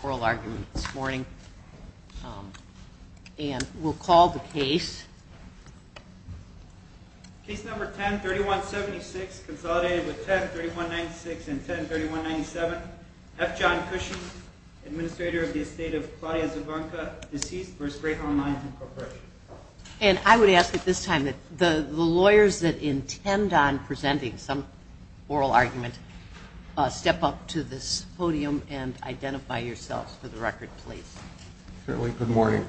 103196 and 103197, F. John Cushing, Administrator of the Estate of Claudia Zabunka, Deceit v. Greyhound Lines, Inc. And I would ask at this time that the lawyers that intend on presenting some oral argument step up to this podium and identify yourselves for the record, please. Certainly. Good morning.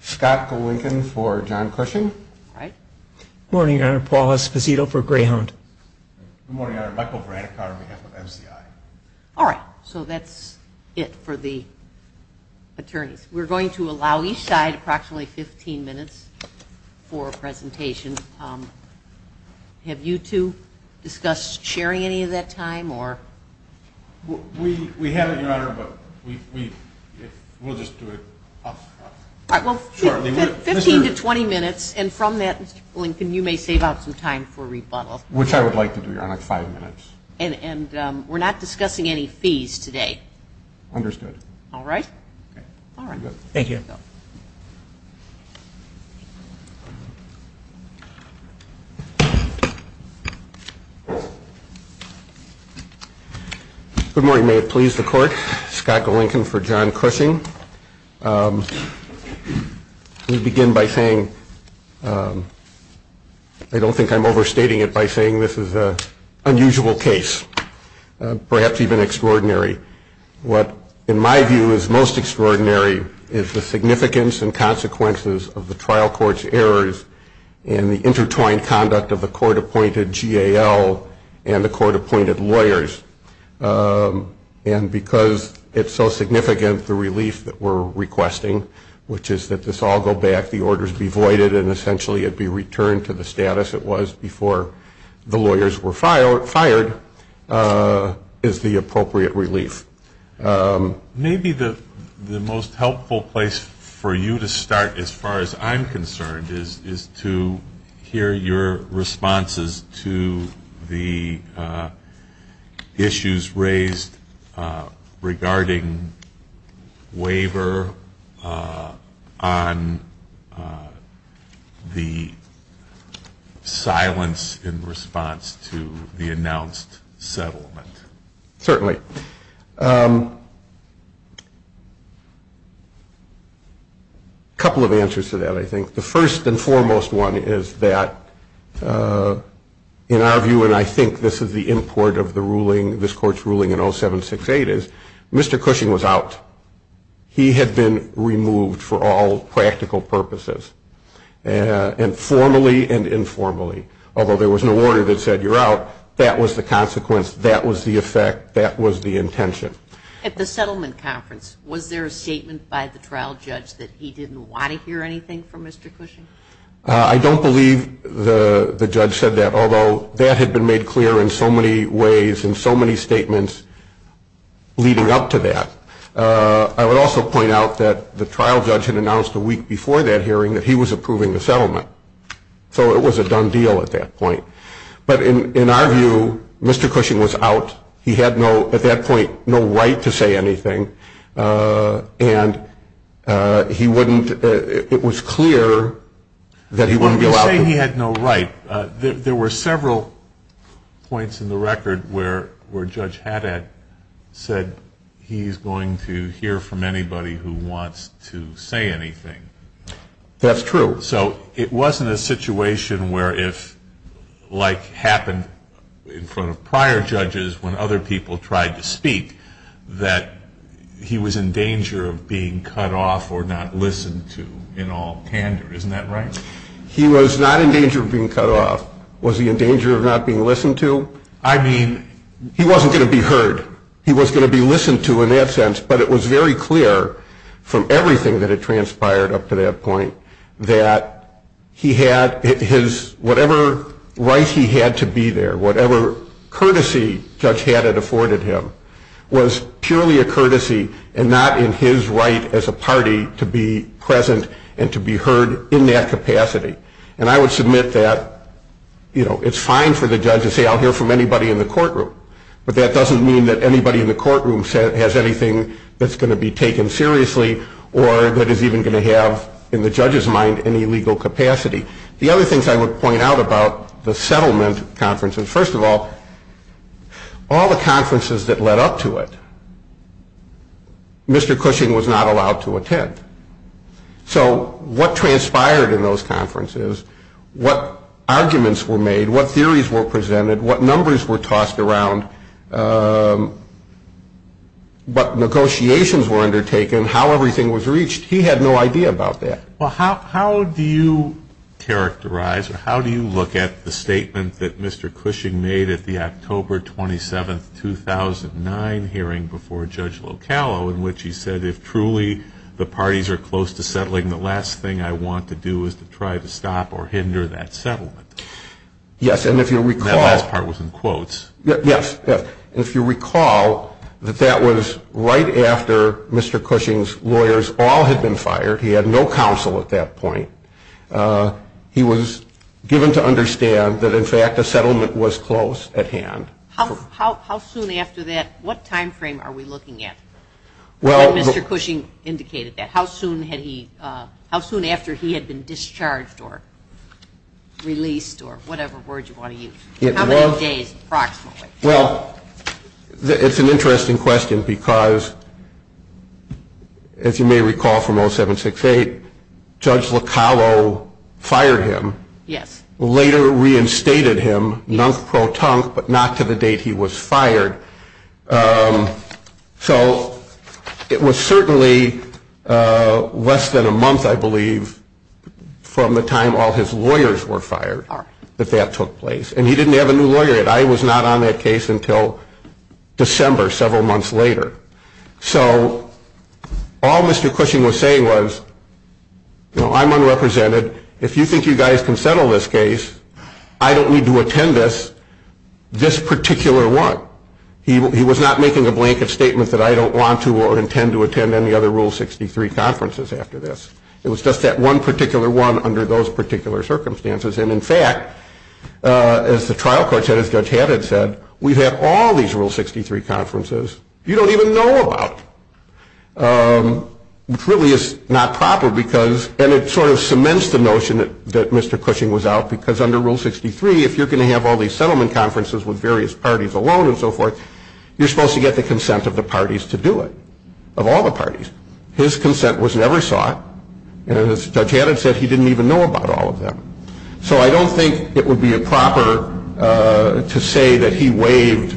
Scott DeLincoln for John Cushing. All right. Good morning, Your Honor. Paul Esposito for Greyhound. Good morning, Your Honor. Michael Braddock on behalf of MCI. All right. So that's it for the attorneys. We're going to allow each side approximately 15 minutes for a presentation. Have you two discussed sharing any of that time, or? We haven't, Your Honor, but we'll just do it off the cuff. All right. Well, 15 to 20 minutes, and from that, Lincoln, you may save out some time for rebuttal. Which I would like to do, Your Honor, five minutes. And we're not discussing any fees today. Understood. All right. All right. Thank you. Good morning. May it please the court. Scott DeLincoln for John Cushing. We begin by saying, I don't think I'm overstating it by saying this is an unusual case. Perhaps even extraordinary. What, in my view, is most extraordinary is the significance and consequences of the trial court's errors and the intertwined conduct of a court-appointed GAL and the court-appointed lawyers. And because it's so significant, the relief that we're requesting, which is that this all go back, the orders be voided, and essentially it be returned to the status it was before the lawyers were fired, is the appropriate relief. Maybe the most helpful place for you to start, as far as I'm concerned, is to hear your responses to the issues raised regarding waiver on the silence in response to the announced settlement. Certainly. A couple of answers to that, I think. The first and foremost one is that, in our view, and I think this is the import of the ruling, this court's ruling in 0768, is Mr. Cushing was out. He had been removed for all practical purposes, informally and informally. Although there was no order that said, you're out, that was the consequence, that was the effect, that was the intention. At the settlement conference, was there a statement by the trial judge that he didn't want to hear anything from Mr. Cushing? I don't believe the judge said that, although that had been made clear in so many ways and so many statements leading up to that. I would also point out that the trial judge had announced a week before that hearing that he was approving the settlement. So it was a done deal at that point. But in our view, Mr. Cushing was out. He had no, at that point, no right to say anything. And he wouldn't, it was clear that he wouldn't be allowed to. When you say he had no right, there were several points in the record where Judge Haddad said, he's going to hear from anybody who wants to say anything. That's true. So it wasn't a situation where if, like happened in front of prior judges when other people tried to speak, that he was in danger of being cut off or not listened to in all candor, isn't that right? He was not in danger of being cut off. Was he in danger of not being listened to? I mean, he wasn't going to be heard. He was going to be listened to in that sense, but it was very clear from everything that had transpired up to that point that he had his, whatever right he had to be there, whatever courtesy Judge Haddad afforded him, was purely a courtesy and not in his right as a party to be present and to be heard in that capacity. And I would submit that, you know, it's fine for the judge to say I'll hear from anybody in the courtroom, but that doesn't mean that anybody in the courtroom has anything that's going to be taken seriously or that is even going to have, in the judge's mind, any legal capacity. The other things I would point out about the settlement conferences, first of all, all the conferences that led up to it, Mr. Cushing was not allowed to attend. So what transpired in those conferences, what arguments were made, what theories were presented, what numbers were tossed around, what negotiations were undertaken, how everything was reached, he had no idea about that. Well, how do you characterize or how do you look at the statement that Mr. Cushing made at the October 27, 2009 hearing before Judge Locallo in which he said, if truly the parties are close to settling, the last thing I want to do is to try to stop or hinder that settlement? Yes, and if you recall. That last part was in quotes. Yes, yes. If you recall, that that was right after Mr. Cushing's lawyers all had been fired. He had no counsel at that point. He was given to understand that, in fact, the settlement was close at hand. How soon after that, what time frame are we looking at? Mr. Cushing indicated that. How soon had he, how soon after he had been discharged or released or whatever word you want to use? How many days approximately? Well, it's an interesting question because, as you may recall from 0768, Judge Locallo fired him, later reinstated him, non-pro-tunc, but not to the date he was fired. So, it was certainly less than a month, I believe, from the time all his lawyers were fired that that took place. And he didn't have a new lawyer yet. I was not on that case until December, several months later. So, all Mr. Cushing was saying was, you know, I'm unrepresented. If you think you guys can settle this case, I don't need to attend this, this particular one. He was not making a blanket statement that I don't want to or intend to attend any other Rule 63 conferences after this. It was just that one particular one under those particular circumstances. And, in fact, as the trial court said, as Judge Haddad said, we've had all these Rule 63 conferences you don't even know about, which really is not proper because, and it sort of cements the notion that Mr. Cushing was out because under Rule 63, if you're going to have all these settlement conferences with various parties alone and so forth, you're supposed to get the consent of the parties to do it, of all the parties. His consent was never sought, and as Judge Haddad said, he didn't even know about all of them. So, I don't think it would be proper to say that he waived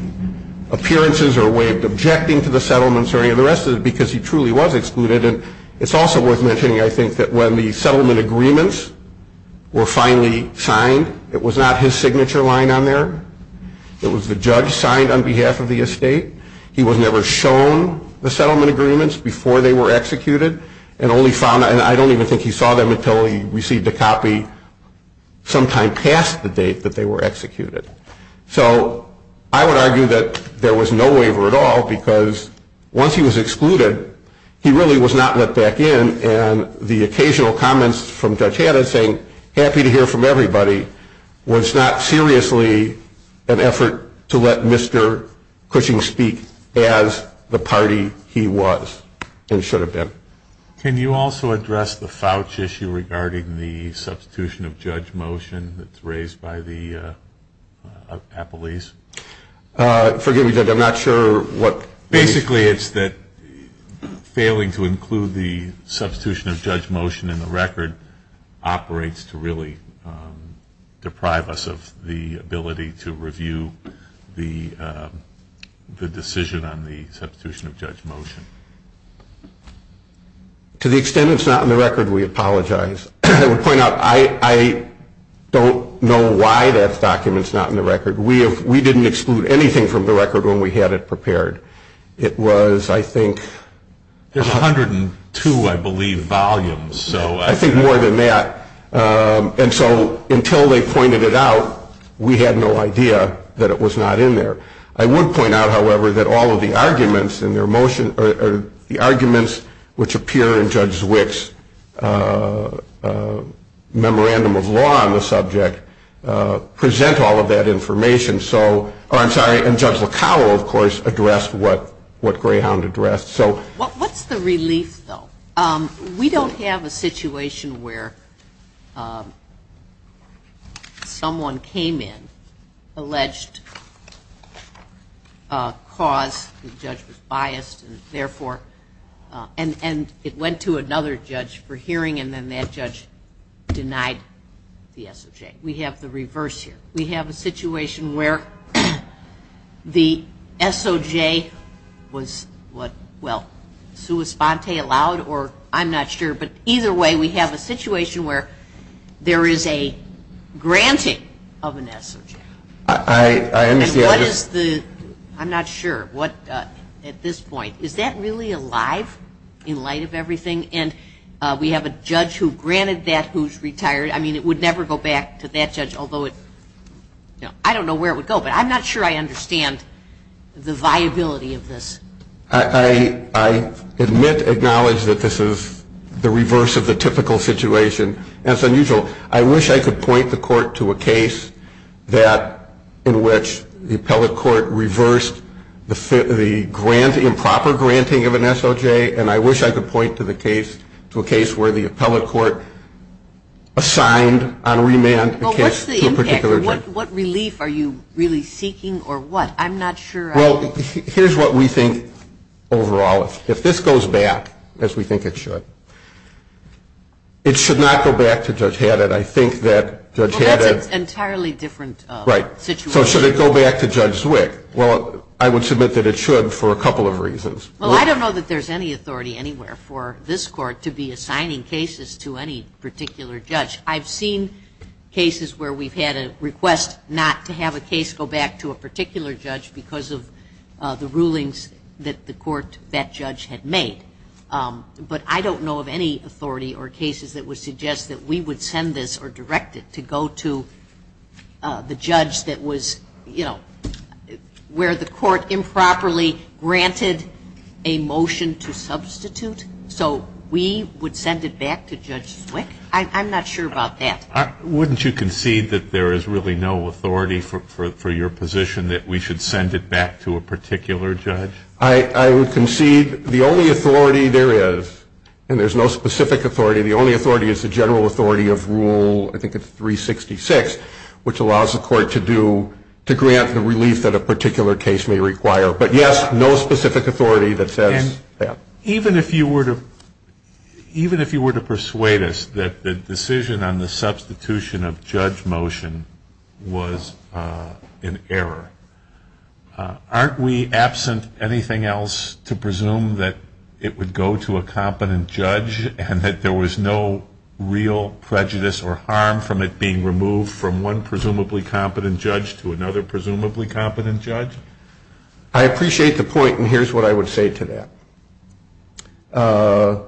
appearances or waived objecting to the settlements or any of the rest of it because he truly was excluded. And, it's also worth mentioning, I think, that when the settlement agreements were finally signed, it was not his signature line on there, it was the judge signed on behalf of the estate. He was never shown the settlement agreements before they were executed and only found, and I don't even think he saw them until he received a copy sometime past the date that they were executed. So, I would argue that there was no waiver at all because once he was excluded, he really was not let back in and the occasional comments from Judge Haddad saying, happy to hear from everybody, was not seriously an effort to let Mr. Cushing speak as the party he was and should have been. Can you also address the Fouch issue regarding the substitution of judge motion that's raised by the appellees? Forgive me, Judge, I'm not sure what. Basically, it's that failing to include the substitution of judge motion in the record operates to really deprive us of the ability to review the decision on the substitution of judge motion. To the extent it's not in the record, we apologize. I would point out, I don't know why that document's not in the record. We didn't exclude anything from the record when we had it prepared. It was, I think, there's 102, I believe, volumes, so I think more than that. And so, until they pointed it out, we had no idea that it was not in there. I would point out, however, that all of the arguments in their motion or the arguments which appear in Judge Witt's memorandum of law on the subject present all of that information. So, oh, I'm sorry, and Judge LaCowell, of course, addressed what Greyhound addressed. So. What's the relief, though? We don't have a situation where someone came in, alleged cause, the judge was biased, and therefore, and it went to another judge for hearing, and then that judge denied the SOJ. We have the reverse here. We have a situation where the SOJ was, what, well, sui sponte allowed, or I'm not sure, but either way, we have a situation where there is a granting of an SOJ. I understand. I'm not sure what, at this point, is that really alive in light of everything? And we have a judge who granted that who's retired. I mean, it would never go back to that judge, although it, I don't know where it would go, but I'm not sure I understand the viability of this. I admit, acknowledge that this is the reverse of the typical situation, and it's unusual. I wish I could point the court to a case that, in which the appellate court reversed the grant, improper granting of an SOJ, and I wish I could point to the case, to a case where the appellate court assigned on remand the case to a particular judge. What's the impact, or what relief are you really seeking, or what? I'm not sure. Well, here's what we think overall. If this goes back, as we think it should, it should not go back to Judge Haddad. I think that Judge Haddad. Entirely different situation. Right. So should it go back to Judge Zwick? Well, I would submit that it should, for a couple of reasons. Well, I don't know that there's any authority anywhere for this court to be assigning cases to any particular judge. I've seen cases where we've had a request not to have a case go back to a particular judge because of the rulings that the court, that judge had made. But I don't know of any authority or cases that would suggest that we would send this or direct it to go to the judge that was, you know, where the court improperly granted a motion to substitute. So we would send it back to Judge Zwick? I'm not sure about that. Wouldn't you concede that there is really no authority for your position that we should send it back to a particular judge? I would concede the only authority there is, and there's no specific authority, the only authority is the general authority of Rule, I think it's 366, which allows the court to do, to grant the relief that a particular case may require. But yes, no specific authority that says that. Even if you were to, even if you were to persuade us that the decision on the substitution of judge motion was in error, aren't we absent anything else to presume that it would go to a competent judge and that there was no real prejudice or harm from it being removed from one presumably competent judge to another presumably competent judge? I appreciate the point, and here's what I would say to that.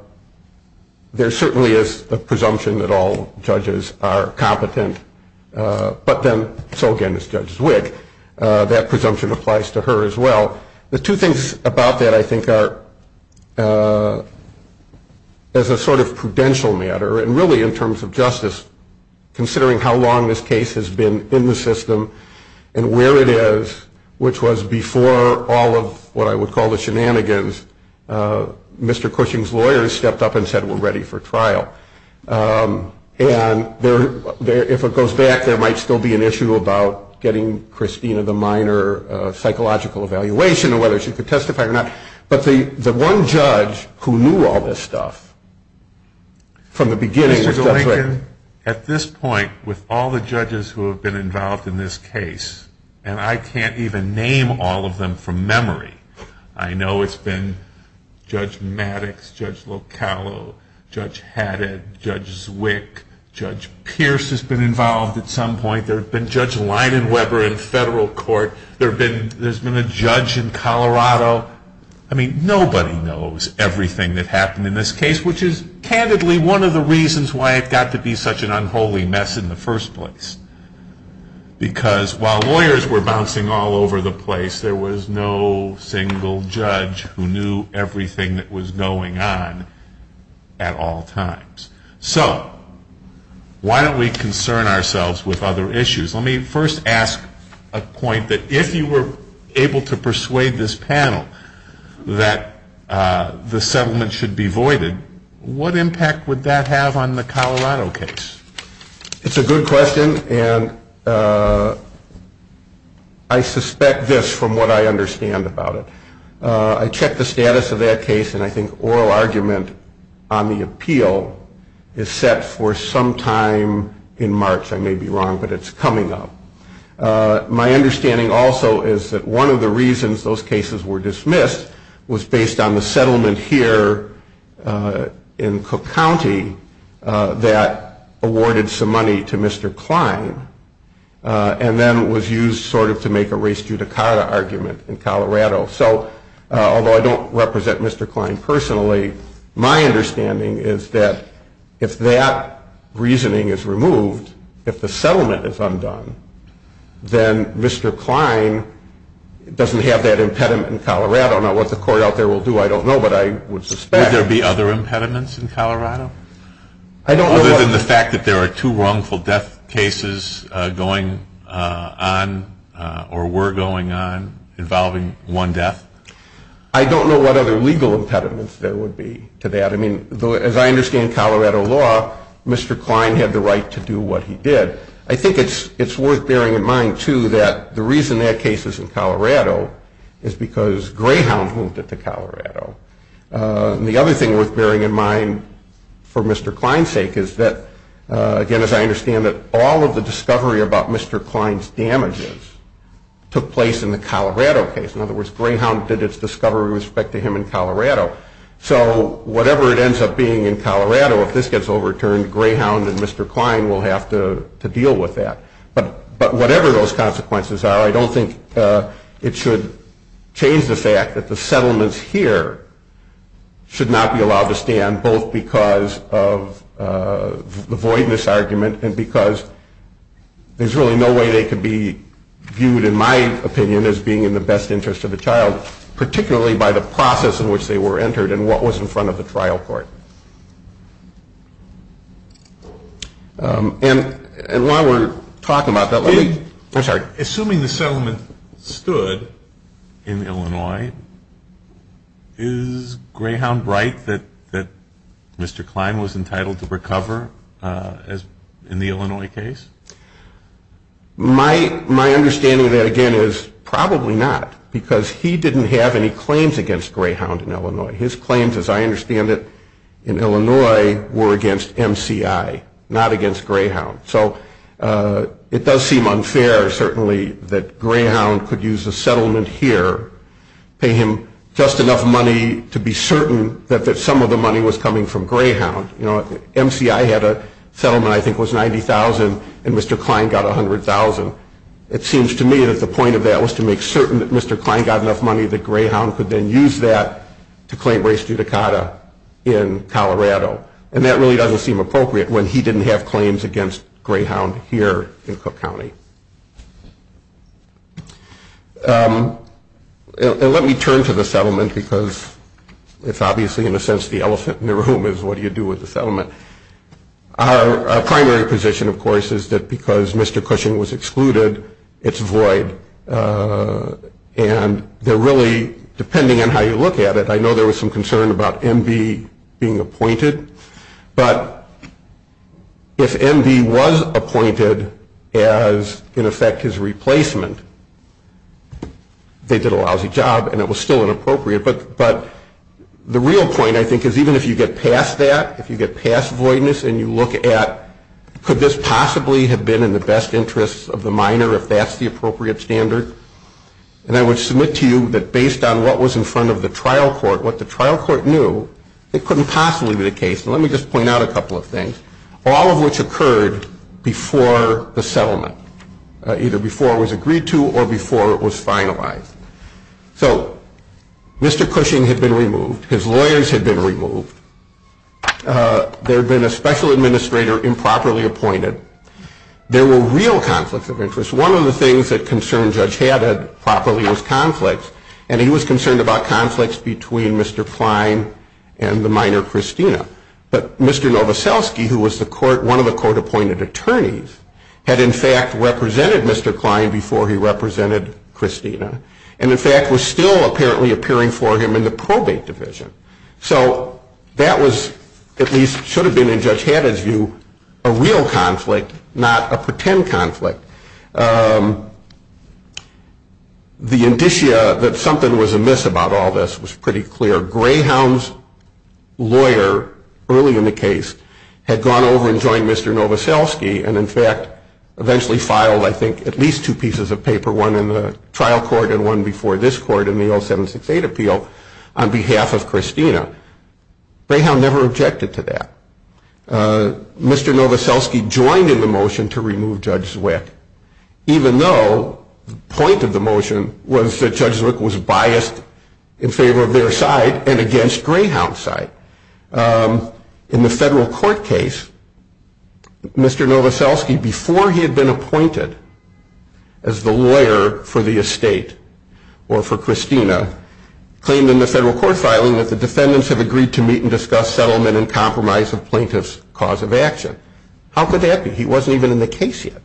There certainly is a presumption that all judges are competent, but then, so again, this Judge Zwick, that presumption applies to her as well. The two things about that I think are, as a sort of prudential matter, and really in terms of justice, considering how long this case has been in the system and where it is, which was before all of what I would call the shenanigans, Mr. Cushing's lawyer stepped up and said we're ready for trial, and there, if it goes back, there might still be an issue about getting Christina the minor psychological evaluation of whether she could testify or not. But the one judge who knew all this stuff from the beginning. Mr. Zwick, at this point, with all the judges who have been involved in this case, and I can't even name all of them from memory, I know it's been Judge Maddox, Judge Locallo, Judge Haddad, Judge Zwick, Judge Pierce has been involved at some point. There's been Judge Leidenweber in federal court. There's been a judge in Colorado. I mean, nobody knows everything that happened in this case, which is, candidly, one of the reasons why it got to be such an unholy mess in the first place. Because while lawyers were bouncing all over the place, there was no single judge who knew everything that was going on at all times. So, why don't we concern ourselves with other issues? Let me first ask a point that if you were able to persuade this panel that the settlement should be voided, what impact would that have on the Colorado case? It's a good question, and I suspect this from what I understand about it. I checked the status of that case, and I think oral argument on the appeal is set for sometime in March, I may be wrong, but it's coming up. My understanding also is that one of the reasons those cases were dismissed was based on the settlement here in Cook County that awarded some money to Mr. Klein and then was used sort of to make a res judicata argument in Colorado. So, although I don't represent Mr. Klein personally, my understanding is that if that reasoning is removed, if the settlement is undone, then Mr. Klein doesn't have that impediment in Colorado. Now, what the court out there will do, I don't know, but I would suspect. Would there be other impediments in Colorado? Other than the fact that there are two wrongful death cases going on or were going on involving one death? I don't know what other legal impediments there would be to that. I mean, as I understand Colorado law, Mr. Klein had the right to do what he did. I think it's worth bearing in mind, too, that the reason that case is in Colorado is because Greyhound moved it to Colorado. And the other thing worth bearing in mind for Mr. Klein's sake is that, again, as I understand it, all of the discovery about Mr. Klein's damages took place in the Colorado case, in other words, Greyhound did its discovery with respect to him in Colorado. So, whatever it ends up being in Colorado, if this gets overturned, Greyhound and Mr. Klein will have to deal with that. But whatever those consequences are, I don't think it should change the fact that the settlements here should not be allowed to stand, both because of the voidness argument and because there's really no way they could be viewed, in my opinion, as being in the best interest of the child, particularly by the process in which they were entered and what was in front of the trial court. And while we're talking about that, let me, I'm sorry. Assuming the settlement stood in Illinois, is Greyhound right that Mr. Klein was entitled to recover in the Illinois case? My understanding of that, again, is probably not, because he didn't have any claims against Greyhound in Illinois. His claims, as I understand it, in Illinois were against MCI, not against Greyhound. So, it does seem unfair, certainly, that Greyhound could use a settlement here, pay him just enough money to be certain that some of the money was coming from Greyhound. You know, MCI had a settlement I think was $90,000, and Mr. Klein got $100,000. It seems to me that the point of that was to make certain that Mr. Klein got enough money that Greyhound could then use that to claim race judicata in Colorado. And that really doesn't seem appropriate when he didn't have claims against Greyhound here in Cook County. And let me turn to the settlement, because it's obviously, in a sense, the elephant in the room is what do you do with the settlement. Our primary position, of course, is that because Mr. Cushing was excluded, it's void. And they're really, depending on how you look at it, I know there was some concern about M.B. being appointed, but if M.B. was appointed as, in effect, his replacement, they did a lousy job and it was still inappropriate, but the real point, I think, is even if you get past that, if you get past voidness and you look at could this possibly have been in the best interest of the minor if that's the appropriate standard, and I would submit to you that based on what was in front of the trial court, what the trial court knew, it couldn't possibly be the case, and let me just point out a couple of things, all of which occurred before the settlement, either before it was agreed to or before it was finalized. So, Mr. Cushing had been removed, his lawyers had been removed, there had been a special administrator improperly appointed, there were real conflicts of interest. One of the things that concerned Judge Haddad properly was conflict, and he was concerned about conflicts between Mr. Klein and the minor, Christina, but Mr. Novoselsky, who was the court, one of the court-appointed attorneys, had in fact represented Mr. Klein before he represented Christina, and in fact was still apparently appearing for him in the probate division. So, that was, at least should have been in Judge Haddad's view, a real conflict, not a pretend conflict. The indicia that something was amiss about all this was pretty clear. Greyhound's lawyer, early in the case, had gone over and joined Mr. Novoselsky, and in fact eventually filed, I think, at least two pieces of paper, one in the trial court and one before this court in the 0768 appeal on behalf of Christina. Greyhound never objected to that. Mr. Novoselsky joined in the motion to remove Judge Zwick, even though the point of the motion was that Judge Zwick was biased in favor of their side and against Greyhound's side. In the federal court case, Mr. Novoselsky, before he had been appointed as the lawyer for the estate or for Christina, claimed in the federal court filing that the defendants had agreed to meet and discuss settlement and compromise of Plaintiff's cause of action. How could that be? He wasn't even in the case yet.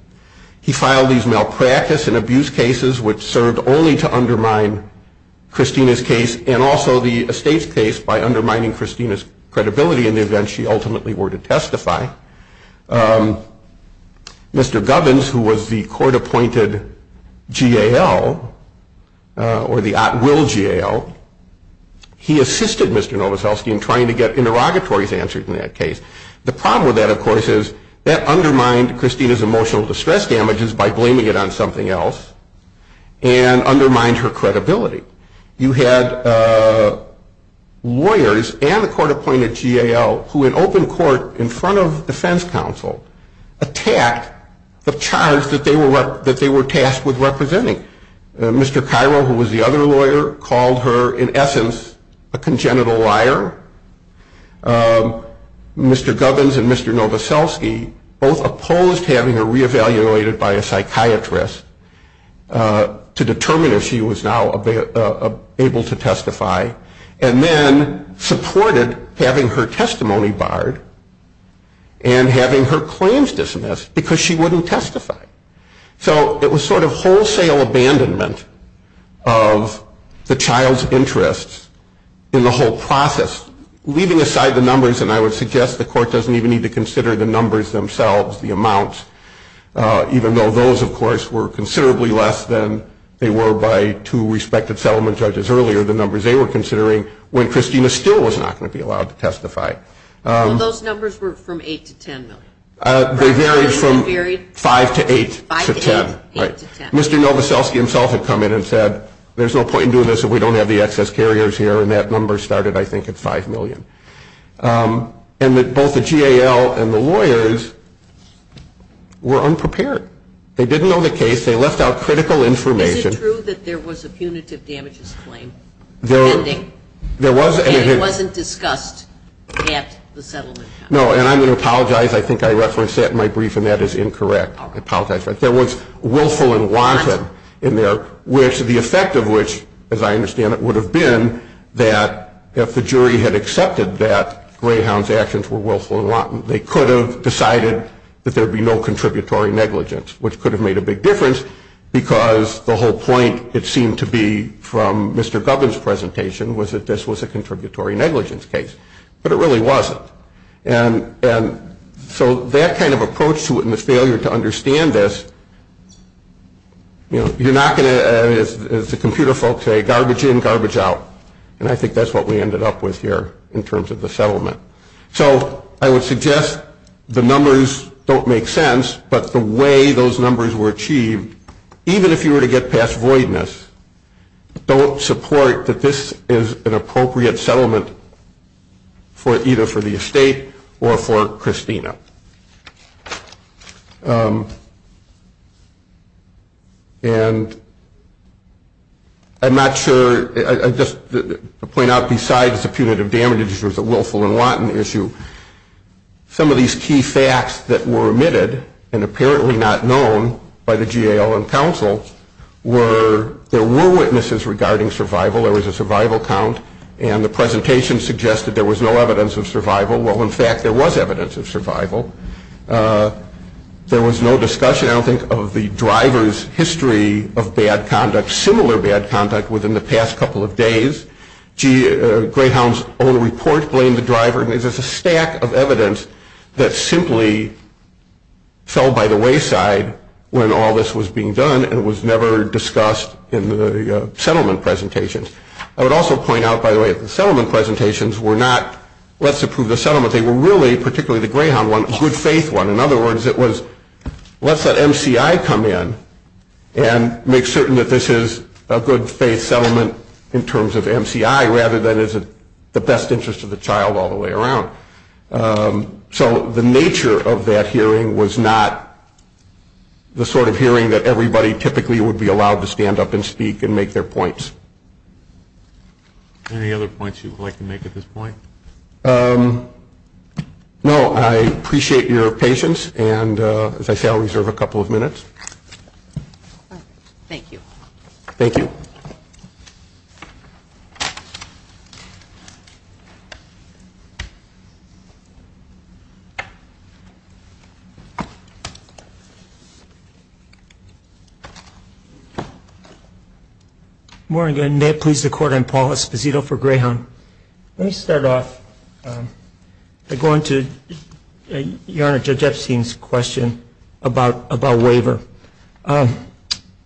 He filed these malpractice and abuse cases which served only to undermine Christina's case and also the estate's case by undermining Christina's credibility in the event she ultimately were to testify. Mr. Govins, who was the court-appointed GAL or the at-will GAL, he assisted Mr. Novoselsky in trying to get interrogatory answers in that case. The problem with that, of course, is that undermined Christina's emotional distress damages by blaming it on something else and undermines her credibility. You have lawyers and the court-appointed GAL who in open court in front of defense counsel attack the charge that they were tasked with representing. Mr. Cairo, who was the other lawyer, called her, in essence, a congenital liar. Mr. Govins and Mr. Novoselsky both opposed having her re-evaluated by a psychiatrist to determine if she was now able to testify and then supported having her testimony barred and having her claims dismissed because she wouldn't testify. So it was sort of wholesale abandonment of the child's interests in the whole process, leaving aside the numbers, and I would suggest the court doesn't even need to consider the numbers themselves, the amounts, even though those, of course, were considerably less than they were by two respected settlement judges earlier, the numbers they were considering when Christina's skill was not going to be allowed to testify. Those numbers were from 8 to 10, though. They varied from 5 to 8 to 10. Mr. Novoselsky himself had come in and said, there's no point in doing this if we don't have the excess carriers here, and that number started, I think, at 5 million. And both the GAL and the lawyers were unprepared. They didn't know the case. They left out critical information. Is it true that there was a punitive damages claim pending? It wasn't discussed at the settlement. No, and I'm going to apologize. I think I referenced that in my brief, and that is incorrect. I apologize. There was willful and wanton in there, which the effect of which, as I understand it, would have been that if the jury had accepted that Greyhound's actions were willful and wanton, they could have decided that there would be no contributory negligence, which could have made a big difference, because the whole point, it seemed to be from Mr. Gubbin's presentation, was that this was a contributory negligence case, but it really wasn't, and so that kind of approach to it and the failure to understand this, you're not going to, as the computer folks say, garbage in, garbage out, and I think that's what we ended up with here in terms of the settlement. So, I would suggest the numbers don't make sense, but the way those numbers were achieved, even if you were to get past voidness, don't support that this is an appropriate settlement for either for the estate or for Christina. And I'm not sure, I just point out besides the punitive damages, there's a willful and wanton issue, some of these key facts that were omitted and apparently not known by the GAO and counsel were there were witnesses regarding survival, there was a survival count, and the presentation suggested there was no evidence of survival. Well, in fact, there was evidence of survival. There was no discussion, I don't think, of the driver's history of bad conduct, similar bad conduct within the past couple of days. Grayhound's own report blamed the driver, and there's a stack of evidence that simply fell by the wayside when all this was being done, and it was never discussed in the settlement presentations. I would also point out, by the way, the settlement presentations were not let's approve the settlement, they were really, particularly the Grayhound one, good faith one. In other words, it was let's let MCI come in and make certain that this is a good faith settlement in terms of MCI, rather than is it the best interest of the child all the way around. So, the nature of that hearing was not the sort of hearing that everybody typically would be allowed to stand up and speak and make their points. Any other points you would like to make at this point? No, I appreciate your patience, and as I said, I'll reserve a couple of minutes. Thank you. Thank you. Good morning, and may it please the Court, I'm Paul Esposito for Grayhound. Let me start off by going to Your Honor, Judge Epstein's question about waiver.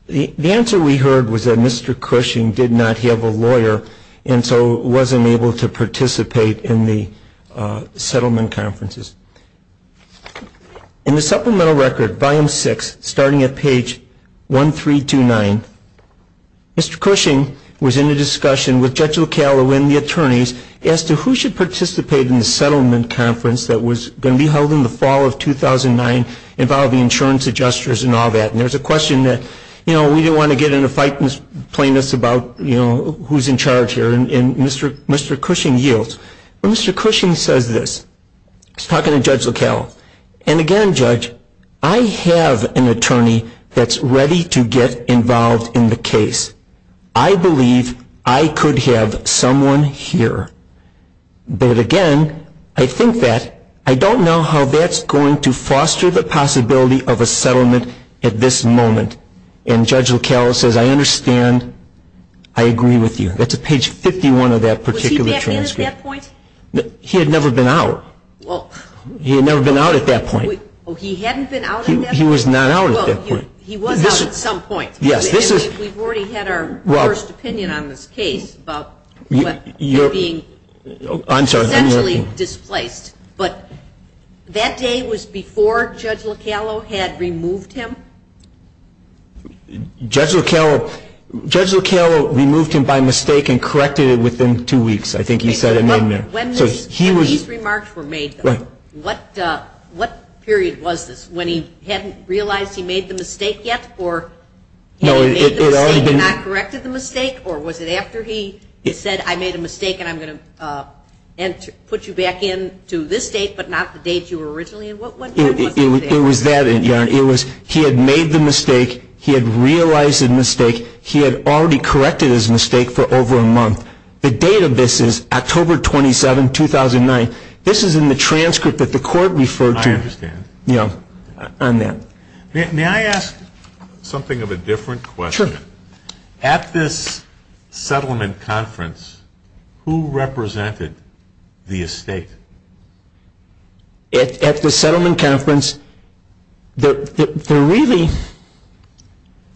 The answer we heard was that Mr. Cushing did not have a lawyer, and so wasn't able to participate in the settlement conferences. In the supplemental record, volume six, starting at page 1329, Mr. Cushing was in a discussion with Judge O'Connell and the attorneys as to who should participate in the settlement conference that was going to be held in the fall of 2009 involving insurance adjusters and all that, and there's a question that, you know, we didn't want to get in a fight and plaintiffs about, you know, who's in charge here, and Mr. Cushing yields. Mr. Cushing says this, he's talking to Judge O'Connell, and again, Judge, I have an attorney that's ready to get involved in the case. I believe I could have someone here, but again, I think that I don't know how that's going to foster the possibility of a settlement at this moment, and Judge O'Connell says, I understand, I agree with you. That's at page 51 of that particular transcript. Was he in at that point? He had never been out. Well. He had never been out at that point. Well, he hadn't been out at that point? He was not out at that point. He was out at some point. Yes. This is. And we've already had our first opinion on this case about what's being potentially displaced, but that day was before Judge Lockello had removed him? Judge Lockello removed him by mistake and corrected it within two weeks. I think he said it. When these remarks were made, what period was this? When he hadn't realized he made the mistake yet, or he had not corrected the mistake, or was it after he had said, I made a mistake and I'm going to put you back in to this date, but not the date you were originally in? What period was that? It was that, and it was, he had made the mistake, he had realized the mistake, he had already corrected his mistake for over a month. The date of this is October 27, 2009. This is in the transcript that the court referred to. I understand. Yeah. On that. May I ask something of a different question? Sure. At this settlement conference, who represented the estate? At the settlement conference, the really,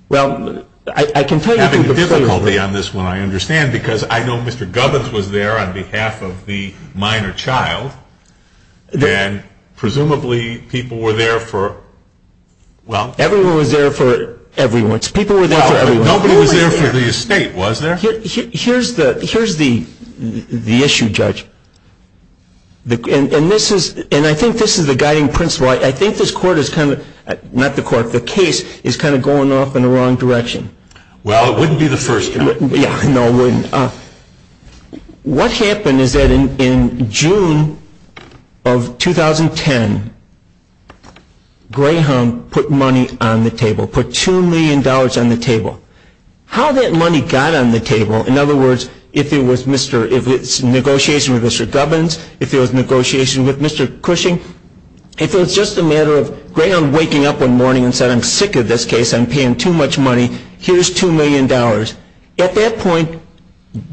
well, I can tell you. You're having difficulty on this one, I understand, because I know Mr. Govins was there on behalf of the minor child, and presumably people were there for, well. Everyone was there for everyone. People were there for everyone. Nobody was there for the estate, was there? Here's the issue, Judge, and this is, and I think this is a guiding principle. I think this court is kind of, not the court, the case is kind of going off in the wrong direction. Well, it wouldn't be the first. No, it wouldn't. What happened is that in June of 2010, Graham put money on the table, put $2 million on the table. How that money got on the table, in other words, if it was Mr., if it's negotiation with Mr. Govins, if it was negotiation with Mr. Cushing, if it was just a matter of Graham waking up one morning and said, I'm sick of this case, I'm paying too much money, here's $2 million. At that point,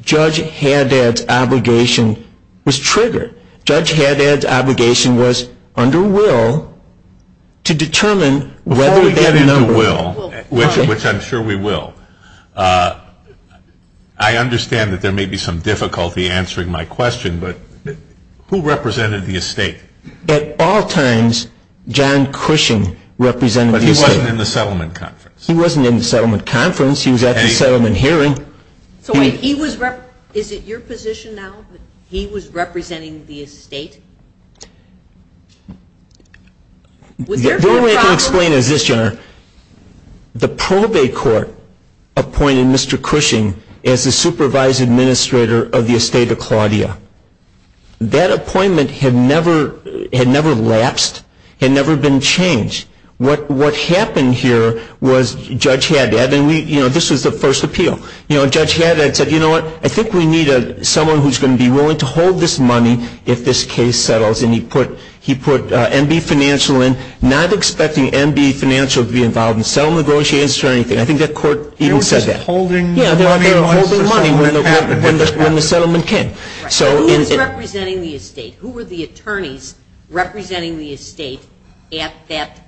Judge Haddad's obligation was triggered. Judge Haddad's obligation was under will to determine whether that number was true. Which I'm sure we will. I understand that there may be some difficulty answering my question, but who represented the estate? At all times, John Cushing represented the estate. But he wasn't in the settlement conference. He wasn't in the settlement conference, he was at the settlement hearing. So, wait, he was, is it your position now that he was representing the estate? The only way I can explain it is this, John, the probate court appointed Mr. Cushing as the supervised administrator of the estate of Claudia. That appointment had never lapsed, had never been changed. What happened here was Judge Haddad, and we, you know, this was the first appeal. You know, Judge Haddad said, you know what, I think we need someone who's going to be willing to hold this money if this case settles. And he put, he put MB financial in, not expecting MB financial to be involved in settlement negotiations or anything. I think that court even says that. Holding. Yeah, they're holding money when the settlement came. So. Who was representing the estate? Who were the attorneys representing the estate at that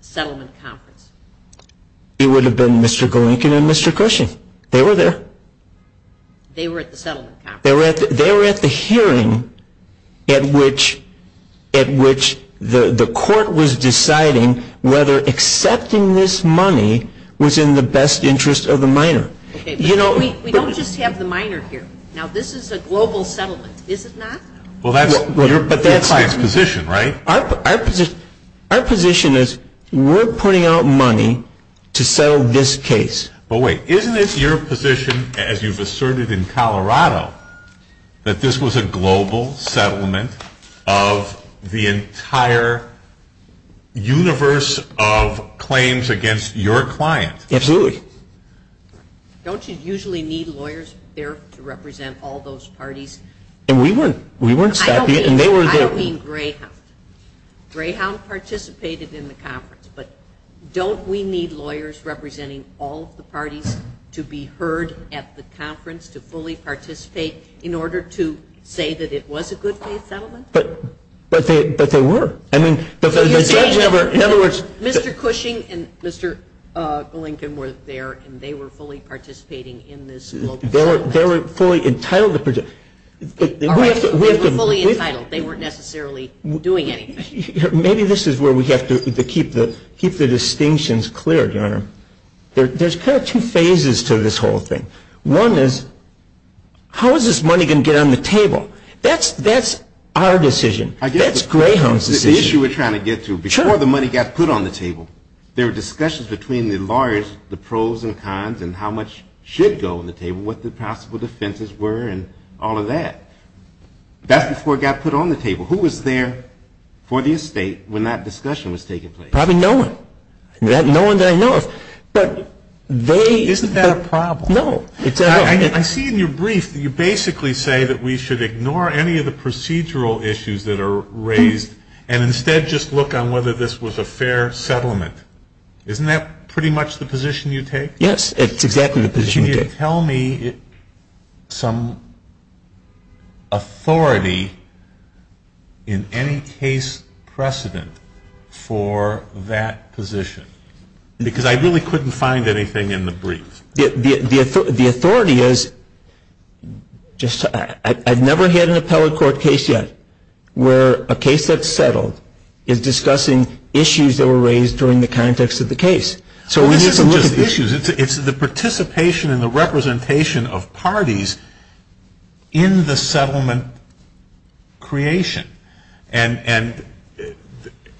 settlement conference? It would have been Mr. Golinkin and Mr. Cushing. They were there. They were at the settlement conference. They were at the hearing at which the court was deciding whether accepting this money was in the best interest of the minor. You know. We don't just have the minor here. Now, this is a global settlement, is it not? Well, that's your client's position, right? Our position is we're putting out money to settle this case. But wait, isn't this your position, as you've asserted in Colorado, that this was a global settlement of the entire universe of claims against your client? Absolutely. Don't you usually need lawyers there to represent all those parties? And we weren't, we weren't. I don't mean, I don't mean Greyhound. Greyhound participated in the conference. But don't we need lawyers representing all the parties to be heard at the conference, to fully participate in order to say that it was a good case settlement? But, but they, but they were. I mean, but they just never, in other words. Mr. Cushing and Mr. Golinkin were there, and they were fully participating in this global. They were, they were fully entitled to present. But we have to, we have to. They were fully entitled. They weren't necessarily doing anything. Maybe, maybe this is where we have to keep the, keep the distinctions clear, Garner. There's kind of two phases to this whole thing. One is, how is this money going to get on the table? That's, that's our decision. That's Greyhound's decision. The issue we're trying to get to. Sure. Before the money got put on the table, there were discussions between the lawyers, the pros and cons, and how much should go on the table, and what the possible defenses were, and all of that. That's before it got put on the table. Who was there for the estate when that discussion was taking place? Probably no one. There's no one that I know of. But they. Isn't that a problem? No. I mean, I see in your brief that you basically say that we should ignore any of the procedural issues that are raised, and instead just look on whether this was a fair settlement. Yes, it's exactly the position you take. Can you tell me some authority in any case precedent for that position? Because I really couldn't find anything in the brief. The authority is, just, I've never had an appellate court case yet where a case that's settled is discussing issues that were raised during the context of the case. So we need to look at the issues. It's the participation and the representation of parties in the settlement creation. And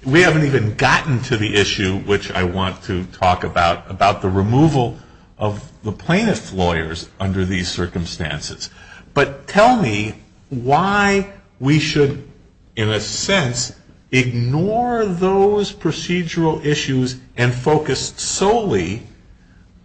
we haven't even gotten to the issue, which I want to talk about, about the removal of the plaintiff's lawyers under these circumstances. But tell me why we should, in a sense, ignore those procedural issues and focus solely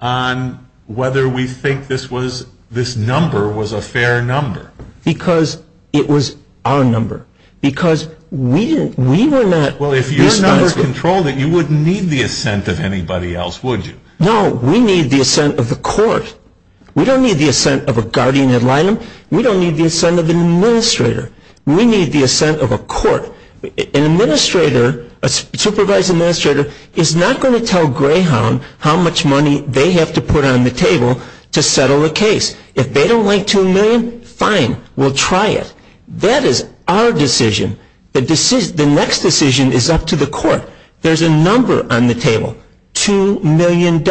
on whether we think this was, this number was a fair number. Because it was our number. Because we didn't, we were not. Well, if your numbers controlled it, you wouldn't need the assent of anybody else, would you? No, we need the assent of the court. We don't need the assent of a guardian ad litem. We don't need the assent of an administrator. We need the assent of a court. An administrator, a supervised administrator is not going to tell Greyhound how much money they have to put on the table to settle a case. If they don't like $2 million, fine, we'll try it. That is our decision. The next decision is up to the court. There's a number on the table, $2 million.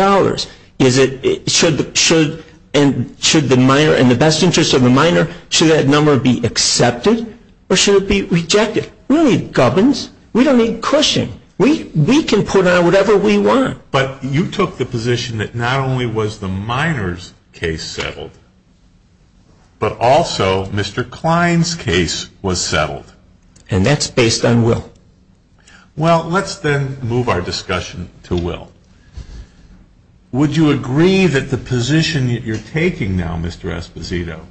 Is it, should the minor, in the best interest of the minor, should that number be accepted or should it be rejected? We don't need governs. We don't need pushing. We can put on whatever we want. But you took the position that not only was the minor's case settled, but also Mr. Klein's case was settled. And that's based on will. Well, let's then move our discussion to will. Would you agree that the position that you're taking now, Mr. Esposito,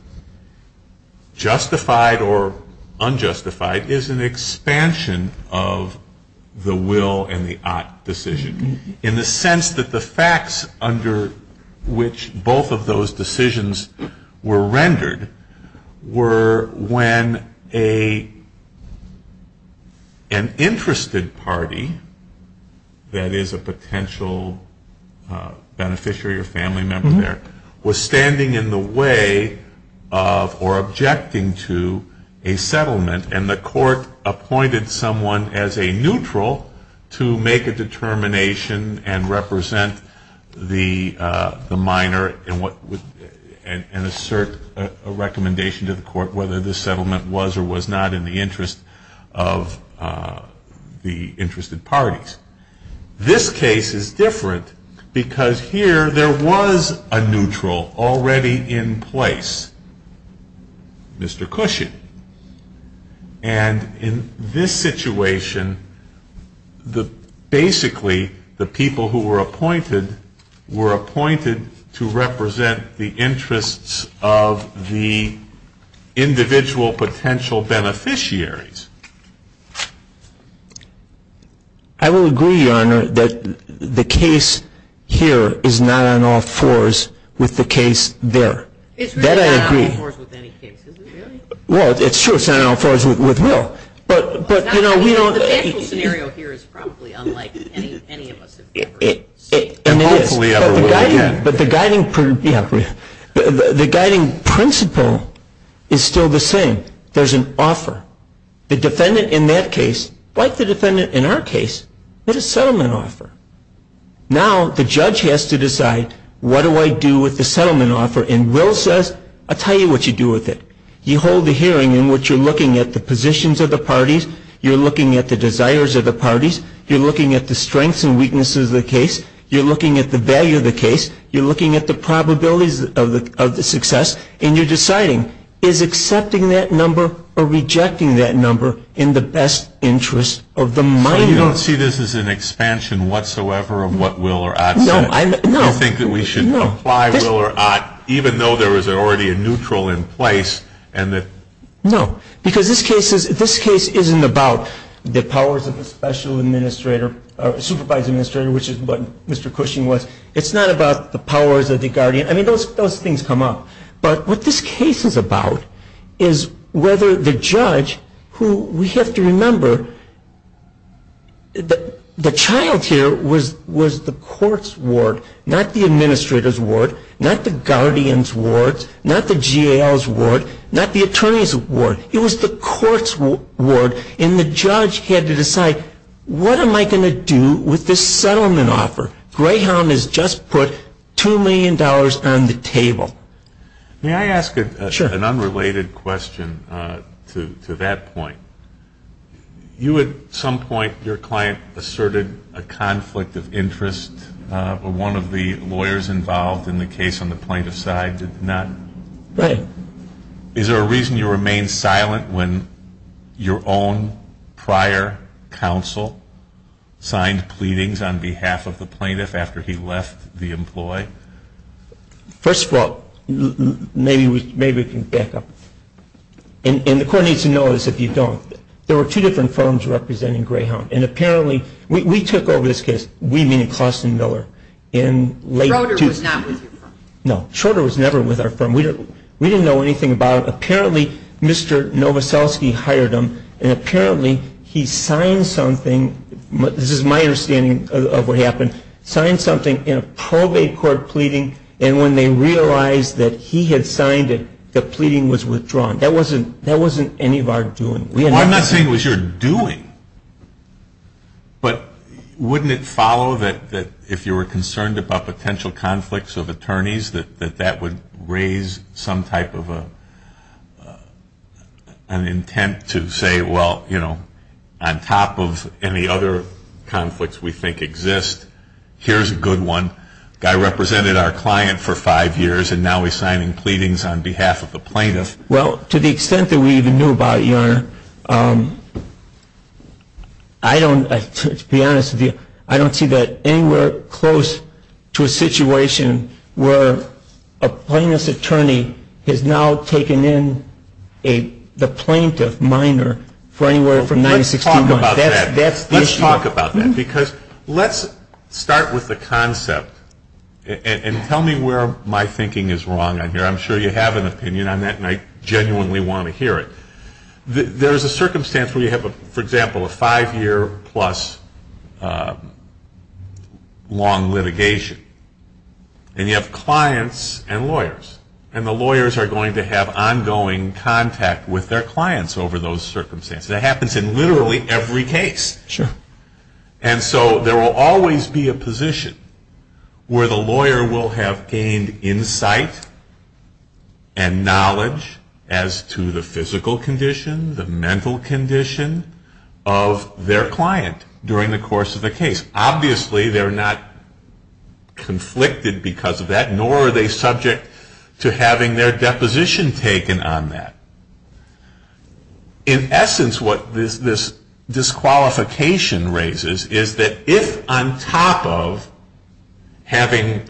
justified or unjustified is an expansion of the will and the ought decision in the sense that the facts under which both of those decisions were rendered were when an interested party, that is a potential beneficiary or family member there, was standing in the way of or objecting to a settlement and the court appointed someone as a neutral to make a determination and represent the minor and assert a recommendation to the court whether the settlement was or was not in the interest of the interested parties. This case is different because here there was a neutral already in place, Mr. Cushing. And in this situation, basically the people who were appointed were appointed to represent the interests of the individual potential beneficiaries. I will agree, Your Honor, that the case here is not on all fours with the case there. That I agree. It's not on all fours with any case, is it, really? Well, it's true it's not on all fours with will, but, you know, we don't. The potential scenario here is probably unlike any of us have ever seen. Hopefully, otherwise, yeah. But the guiding principle is still the same. There's an offer. The defendant in that case, like the defendant in our case, had a settlement offer. Now the judge has to decide what do I do with the settlement offer? And will says, I'll tell you what you do with it. You hold a hearing in which you're looking at the positions of the parties, you're looking at the desires of the parties, you're looking at the strengths and weaknesses of the case, you're looking at the value of the case, you're looking at the probabilities of the success, and you're deciding is accepting that number or rejecting that number in the best interest of the mind. Well, you don't see this as an expansion whatsoever on what will or ought to do. No, I, no. I think that we should apply will or ought, even though there was already a neutral in place, and that, no, because this case is, this case isn't about the powers of a special administrator, a supervised administrator, which is what Mr. Cushing was. It's not about the powers of the guardian. I mean, those, those things come up. But what this case is about is whether the judge who, we have to remember, the child here was the court's ward, not the administrator's ward, not the guardian's ward, not the GAL's ward, not the attorney's ward. It was the court's ward, and the judge had to decide, what am I going to do with this settlement offer? Greyhound has just put $2 million on the table. May I ask an unrelated question to that point? You, at some point, your client asserted a conflict of interest, but one of the lawyers involved in the case on the plaintiff's side did not. Is there a reason you remained silent when your own prior counsel signed pleadings on behalf of the plaintiff after he left the employee? First of all, maybe we can back up. And the court needs to know this if you don't. There were two different firms representing Greyhound, and apparently, we took over this case, we mean Clauston Miller. And later. Shorter was not with your firm. No, Shorter was never with our firm. We didn't know anything about it. Apparently, Mr. Nowoszewski hired him, and apparently, he signed something, this is my understanding of what happened, signed something in a probate court pleading, and when they realized that he had signed it, the pleading was withdrawn. That wasn't any of our doing. I'm not saying it was your doing, but wouldn't it follow that if you were concerned about potential conflicts of attorneys, that that would raise some type of an intent to say, well, you know, on top of any other conflicts we think exist, here's a good one. Guy represented our client for five years, and now he's signing pleadings on behalf of the plaintiff. Well, to the extent that we even knew about it, Your Honor, I don't, to be honest with you, I don't see that anywhere close to a situation where a plaintiff's attorney has now taken in the plaintiff minor for anywhere from nine to 16 months. That's the issue. Let's talk about that, because let's start with the concept, and tell me where my thinking is wrong on here. I'm sure you have an opinion on that, and I genuinely want to hear it. There's a circumstance where you have, for example, a five-year plus long litigation, and you have clients and lawyers, and the lawyers are going to have ongoing contact with their clients over those circumstances. That happens in literally every case. And so there will always be a position where the lawyer will have gained insight and knowledge as to the physical condition, the mental condition of their client during the course of the case. Obviously, they're not conflicted because of that, nor are they subject to having their deposition taken on that. In essence, what this disqualification raises is that if on top of having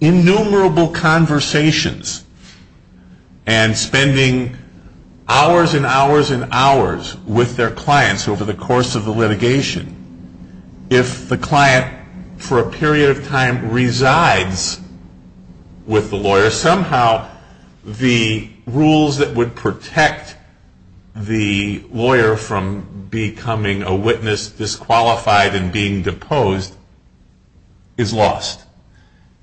innumerable conversations and spending hours and hours and hours with their clients over the course of the litigation, if the client for a period of time resides with the lawyer, somehow the rules that would protect the lawyer from becoming a witness disqualified and being deposed is lost.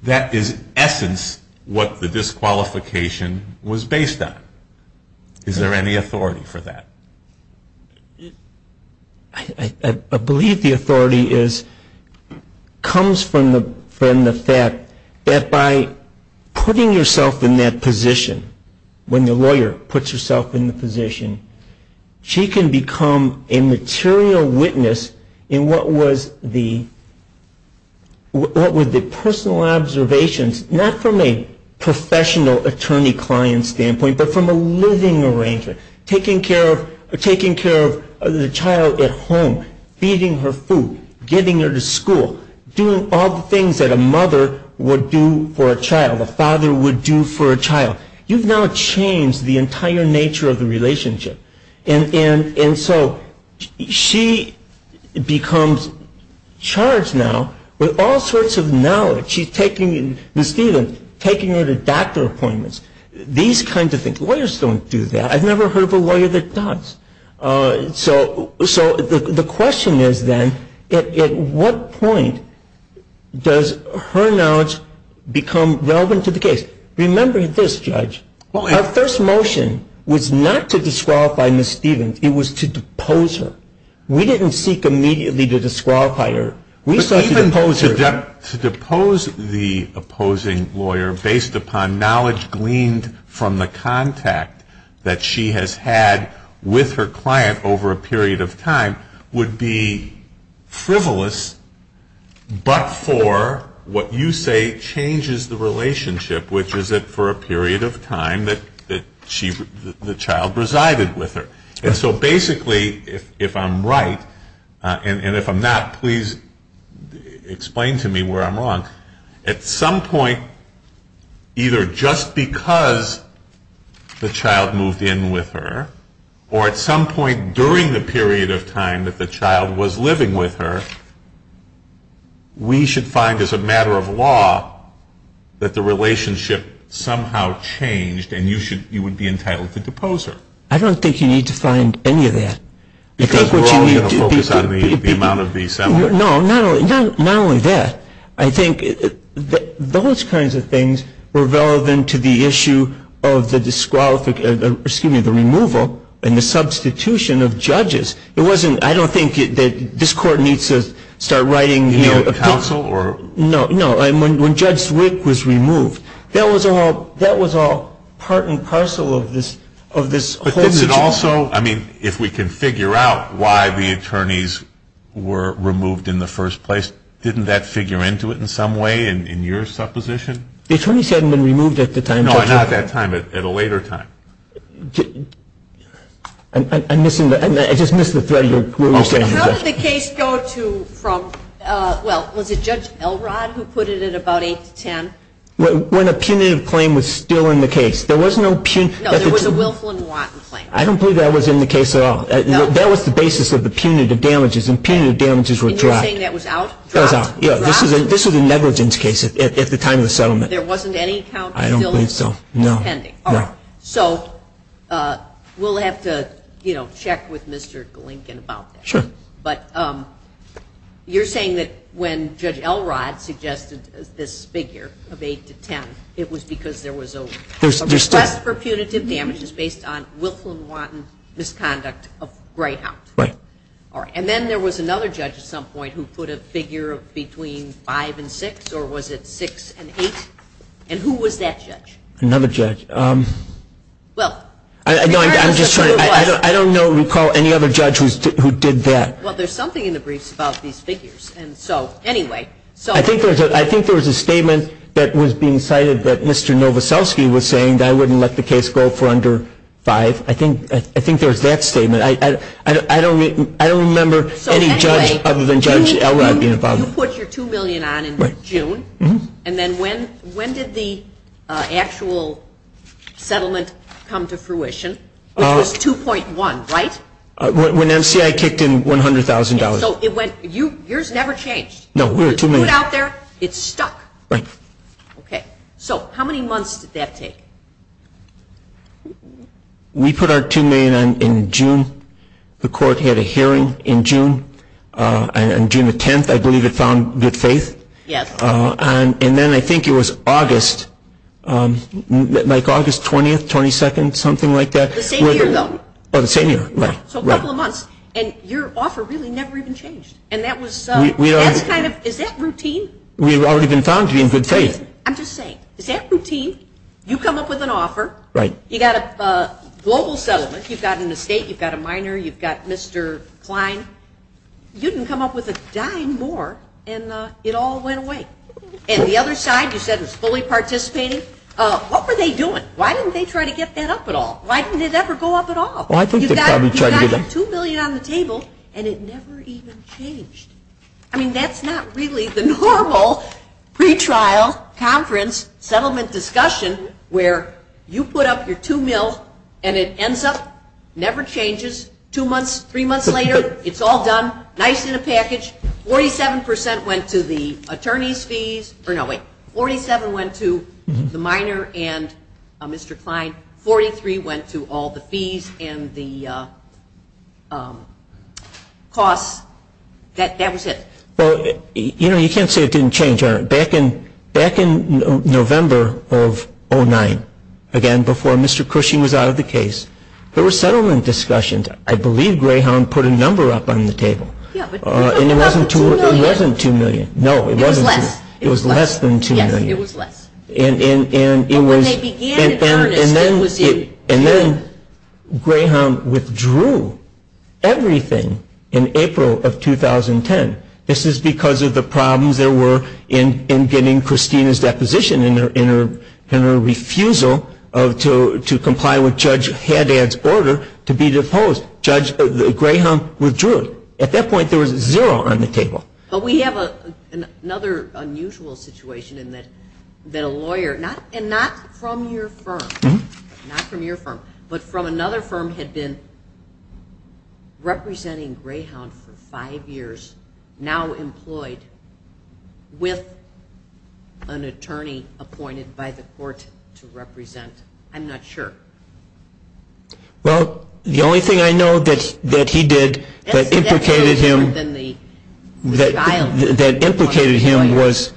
That is, in essence, what the disqualification was based on. Is there any authority for that? I believe the authority comes from the fact that by putting yourself in that position, when the lawyer puts herself in the position, she can become a material witness in what was the personal observations, not from a professional attorney-client standpoint, but from a living arranger, taking care of the child at home, feeding her food, getting her to school, doing all the things that a mother would do for a child, a father would do for a child. You've now changed the entire nature of the relationship. And so, she becomes charged now with all sorts of knowledge. She's taking Ms. Stevens, taking her to doctor appointments. These kinds of things. Lawyers don't do that. I've never heard of a lawyer that does. So, the question is then, at what point does her knowledge become relevant to the case? Remember this, Judge. Our first motion was not to disqualify Ms. Stevens. It was to depose her. We didn't seek immediately to disqualify her. We seek to depose her. To depose the opposing lawyer based upon knowledge gleaned from the contact that she has had with her client over a period of time would be frivolous, but for what you say changes the relationship, which is that for a period of time that the child resided with her. And so, basically, if I'm right, and if I'm not, please explain to me where I'm wrong. At some point, either just because the child moved in with her, or at some point during the period of time that the child was living with her, we should find as a matter of law that the relationship somehow changed, and you would be entitled to depose her. I don't think you need to find any of that. Because we're all going to focus on the amount of the assembly. No, not only that. I think those kinds of things were relevant to the issue of the removal and the substitution of judges. It wasn't, I don't think that this court needs to start writing counsel or. No, no. And when Judge Wick was removed, that was all part and parcel of this whole issue. But is it also, I mean, if we can figure out why the attorneys were removed in the first place, didn't that figure into it in some way in your supposition? The attorneys hadn't been removed at the time. No, not that time, but at a later time. I'm missing, I just missed the thread of what you're saying. How did the case go to, well, was it Judge Elrod who put it at about 8th, 10th? When a punitive claim was still in the case. There was no, I don't believe that was in the case at all. That was the basis of the punitive damages. And punitive damages were dropped. You're saying that was out? That was out. Yeah, this was a negligence case at the time of the settlement. There wasn't any count of billing? I don't think so, no, no. So, we'll have to, you know, check with Mr. Glinken about that. But you're saying that when Judge Elrod suggested this figure of 8th to 10th, it was because there was a request for punitive damages based on Wilklin-Waughton misconduct of Greyhound? Right. All right, and then there was another judge at some point who put a figure between 5 and 6, or was it 6 and 8, and who was that judge? Another judge, I'm just trying to, I don't know, recall any other judge who did that. Well, there's something in the briefs about these figures, and so, anyway, so. I think there was a statement that was being cited that Mr. Novoselsky was saying that I wouldn't let the case go for under 5. I think there was that statement. I don't remember any judge other than Judge Elrod being involved. So, anyway, you put your $2 million on in June, and then when did the actual settlement come to fruition? It was 2.1, right? When MCI kicked in $100,000. So, it went, yours never changed? No, we were $2 million. It's out there? It's stuck? Right. Okay. So, how many months did that take? We put our $2 million in June. The court had a hearing in June, on June the 10th, I believe it's on Good Faith. Yes. And then I think it was August, like August 20th, 22nd, something like that. The same year, though? Oh, the same year, right. So, a couple of months, and your offer really never even changed, and that was. We, we. Is that routine? We've already been found to be in Good Faith. I'm just saying, is that routine? You come up with an offer. Right. You've got a global settlement, you've got an estate, you've got a minor, you've got Mr. Klein. You didn't come up with a dime more, and it all went away. And the other side, you said it's fully participated. What were they doing? Why didn't they try to get that up at all? Why didn't it ever go up at all? Well, I think they probably tried to get up. You got your $2 million out on the table, and it never even changed. I mean, that's not really the normal pre-trial conference settlement discussion where you put up your $2 million, and it ends up, never changes, two months, three months later, it's all done, nice in a package, 47% went to the attorney's fees, or no, wait, 47% went to the minor and Mr. Klein, 43% went to all the fees and the costs. That was it. Well, you know, you can't say it didn't change. Back in November of 2009, again, before Mr. Cushy was out of the case, there were settlement discussions. I believe Greyhound put a number up on the table. Yeah, but it wasn't $2 million. No, it wasn't. It was less. It was less than $2 million. It was less. And then Greyhound withdrew everything in April of 2010. This is because of the problems there were in getting Christina's deposition and her refusal to comply with Judge Haddad's order to be deposed. Judge Greyhound withdrew it. At that point, there was zero on the table. But we have another unusual situation in that the lawyer, and not from your firm, not from your firm, but from another firm had been representing Greyhound for five years, now employed with an attorney appointed by the court to represent. I'm not sure. Well, the only thing I know that he did that infiltrated him. That infiltrated him was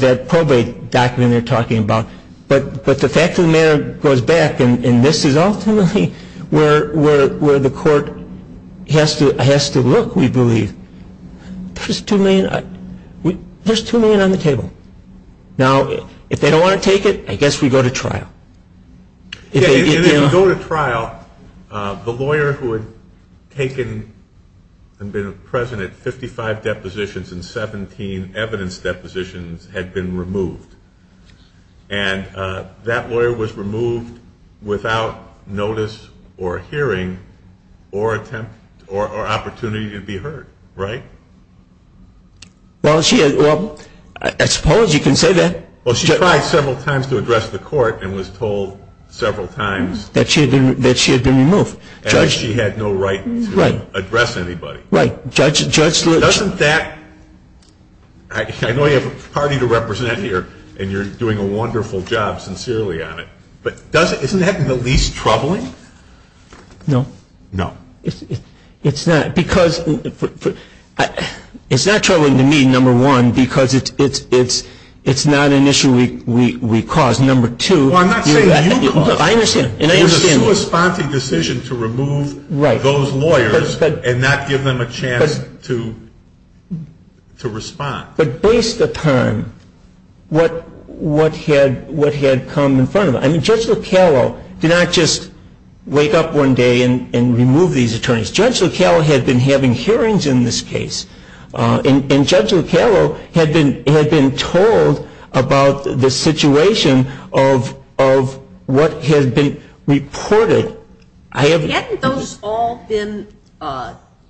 that probate document you're talking about. But the fact of the matter goes back, and this is ultimately where the court has to look, we believe, there's $2 million on the table. Now, if they don't want to take it, I guess we go to trial. If you go to trial, the lawyer who had taken and been present at 55 depositions and 17 evidence depositions had been removed. And that lawyer was removed without notice or hearing or attempt or opportunity to be heard, right? Well, I suppose you can say that. Well, she tried several times to address the court and was told several times that she had been removed. At least she had no right to address anybody. Right. Judge, doesn't that, I know you have a party to represent here and you're doing a wonderful job sincerely on it, but doesn't, isn't that the least troubling? No. No. It's not because, it's not troubling to me, number one, because it's not an issue we cause. Number two. Well, I'm not saying you cause it. I understand. There's a co-responding decision to remove those lawyers and not give them a chance to respond. But based upon what had come in front of it. I mean, Judge Locallo did not just wake up one day and remove these attorneys. Judge Locallo had been having hearings in this case. And Judge Locallo had been told about the situation of what had been reported. I have. Hadn't those all been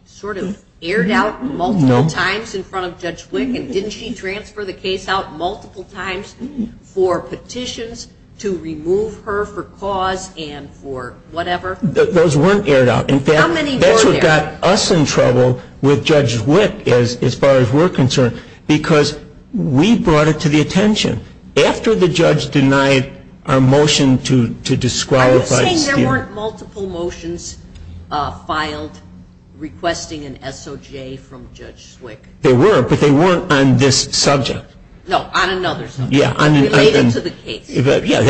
sort of aired out multiple times in front of Judge Wick and didn't she transfer the case out multiple times for petitions to remove her for cause and for whatever? Those weren't aired out. That's what got us in trouble with Judge Wick, as far as we're concerned, because we brought it to the attention. After the judge denied our motion to disqualify. I was saying there weren't multiple motions filed requesting an SOJ from Judge Wick. There were, but they weren't on this subject. No, on another subject. Yeah. Related to the case. Yeah.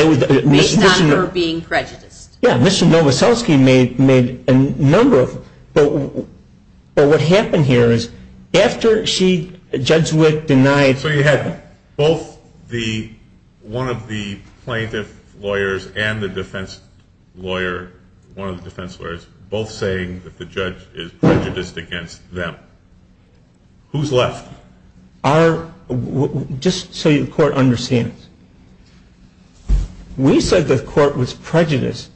Made known for being prejudiced. Yeah. Mr. Novoselsky made a number of them. But what happened here is after she, Judge Wick, denied. So you had both the, one of the plaintiff lawyers and the defense lawyer, one of the defense lawyers, both saying that the judge is prejudiced against them. Who's left? Our, just so your court understands. We said the court was prejudiced.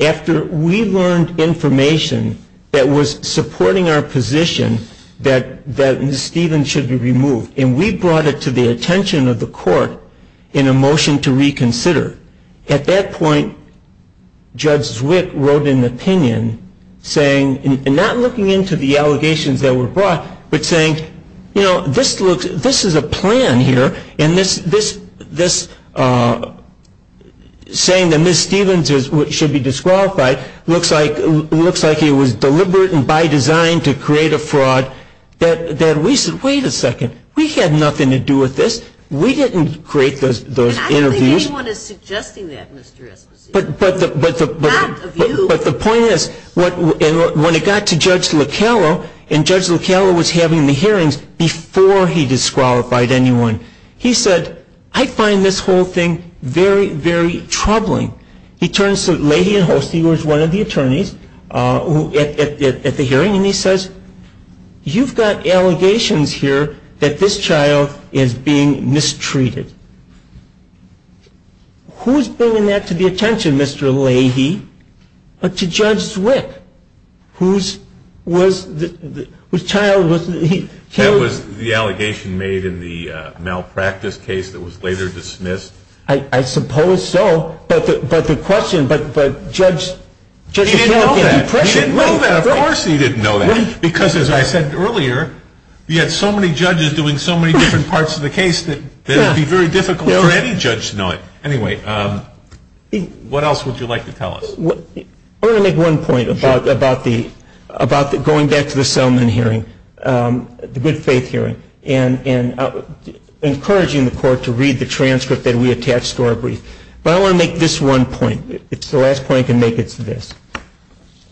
After we learned information that was supporting our position, that Ms. Stephens should be removed. And we brought it to the attention of the court in a motion to reconsider. At that point, Judge Wick wrote an opinion saying, and not looking into the allegations that were brought, but saying, you know, this looks, this is a plan here. And this, this, this saying that Ms. Stephens is, should be disqualified. Looks like, it looks like it was deliberate and by design to create a fraud that, that we said, wait a second, we had nothing to do with this. We didn't create those, those interviews. I don't think anyone is suggesting that, Mr. Eskens. But, but the, but the, but the point is when it got to Judge Lockello and Judge Lockello was having the hearings before he disqualified anyone. He said, I find this whole thing very, very troubling. He turns to Leahy and Holstein, who was one of the attorneys at, at, at, at the hearing. And he says, you've got allegations here that this child is being mistreated. Who's bringing that to the attention, Mr. Leahy, but to Judge Zwick, whose, was, whose child was. That was the allegation made in the malpractice case that was later dismissed. I, I suppose so, but the, but the question, but, but Judge, Judge Zwick had a question. He didn't know that, of course he didn't know that, because as I said earlier, you had so many judges doing so many different parts of the case that it would be very difficult for any judge to know it. Anyway, what else would you like to tell us? I want to make one point about, about the, about the going back to the settlement hearing. The good faith hearing, and, and encouraging the court to read the transcript that we attached to our brief. But I want to make this one point. It's the last point to make it to this.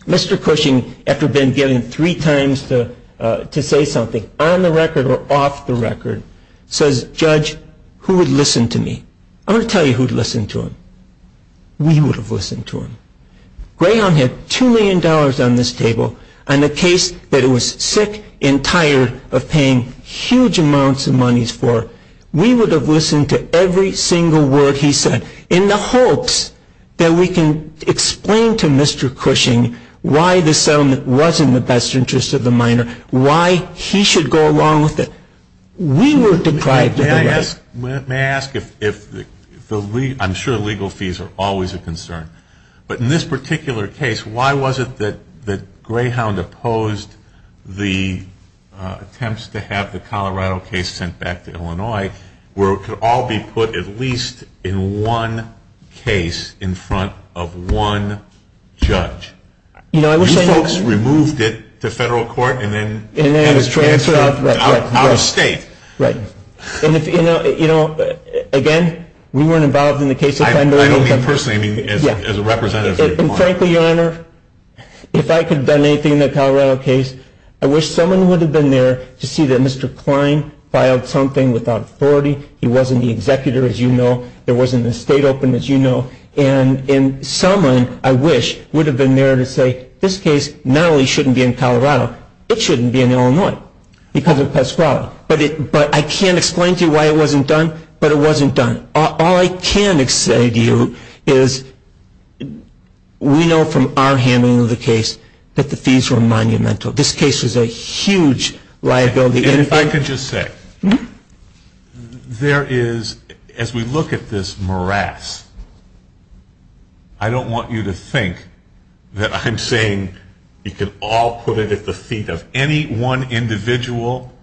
Mr. Cushing, after being given three times the, to say something, on the record or off the record, says, Judge, who would listen to me? I'm going to tell you who'd listen to him. We would have listened to him. Graham had $2 million on this table, and a case that he was sick and tired of paying huge amounts of monies for. We would have listened to every single word he said, in the hopes that we can explain to Mr. Cushing why the settlement wasn't in the best interest of the minor, why he should go along with it. We were deprived of that. May I ask if, if the, I'm sure legal fees are always a concern. But in this particular case, why was it that, that Greyhound opposed the attempts to have the Colorado case sent back to Illinois, where it could all be put at least in one case, in front of one judge? You folks removed it to federal court, and then, and it's transferred out to our state. Right. And if, you know, again, we weren't involved in the case. I don't mean personally, I mean as a representative of the court. And frankly, your honor, if I could have done anything in the Colorado case, I wish someone would have been there to see that Mr. Klein filed something without authority. He wasn't the executor, as you know. There wasn't an estate open, as you know. And someone, I wish, would have been there to say, this case not only shouldn't be in Colorado, it shouldn't be in Illinois, because of the past quality. But it, but I can't explain to you why it wasn't done, but it wasn't done. All I can say to you is, we know from our handling of the case, that the fees were monumental. This case was a huge liability. And if I could just say, there is, as we look at this morass, I don't want you to think that I'm saying you can all put it at the feet of any one individual,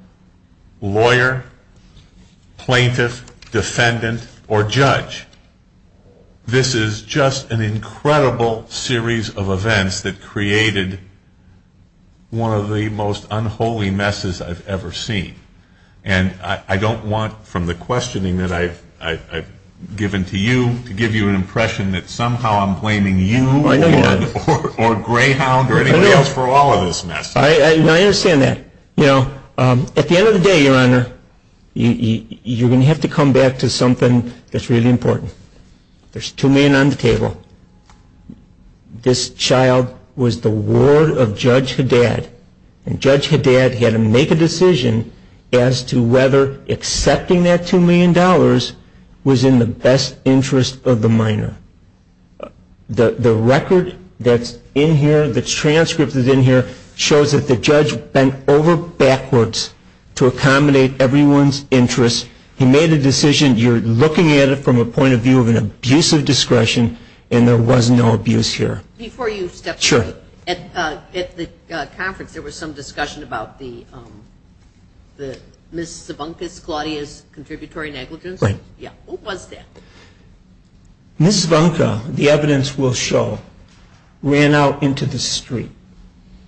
lawyer, plaintiff, defendant, or judge. This is just an incredible series of events that created one of the most unholy messes I've ever seen. And I don't want, from the questioning that I've given to you, to give you an impression that somehow I'm blaming you, or Greyhound, or anyone else for all of this mess. I understand that. You know, at the end of the day, your honor, you're going to have to come back to something that's really important. There's two men on the table. This child was the ward of Judge Haddad. And Judge Haddad had to make a decision as to whether accepting that $2 million was in the best interest of the minor. The record that's in here, the transcript that's in here, shows that the judge bent over backwards to accommodate everyone's interest. He made a decision. You're looking at it from a point of view of an abuse of discretion, and there was no abuse here. Sure. At the conference, there was some discussion about the Ms. Zabunka, Claudia's contributory negligence. Right. Yeah. Who was that? Ms. Zabunka, the evidence will show, ran out into the street.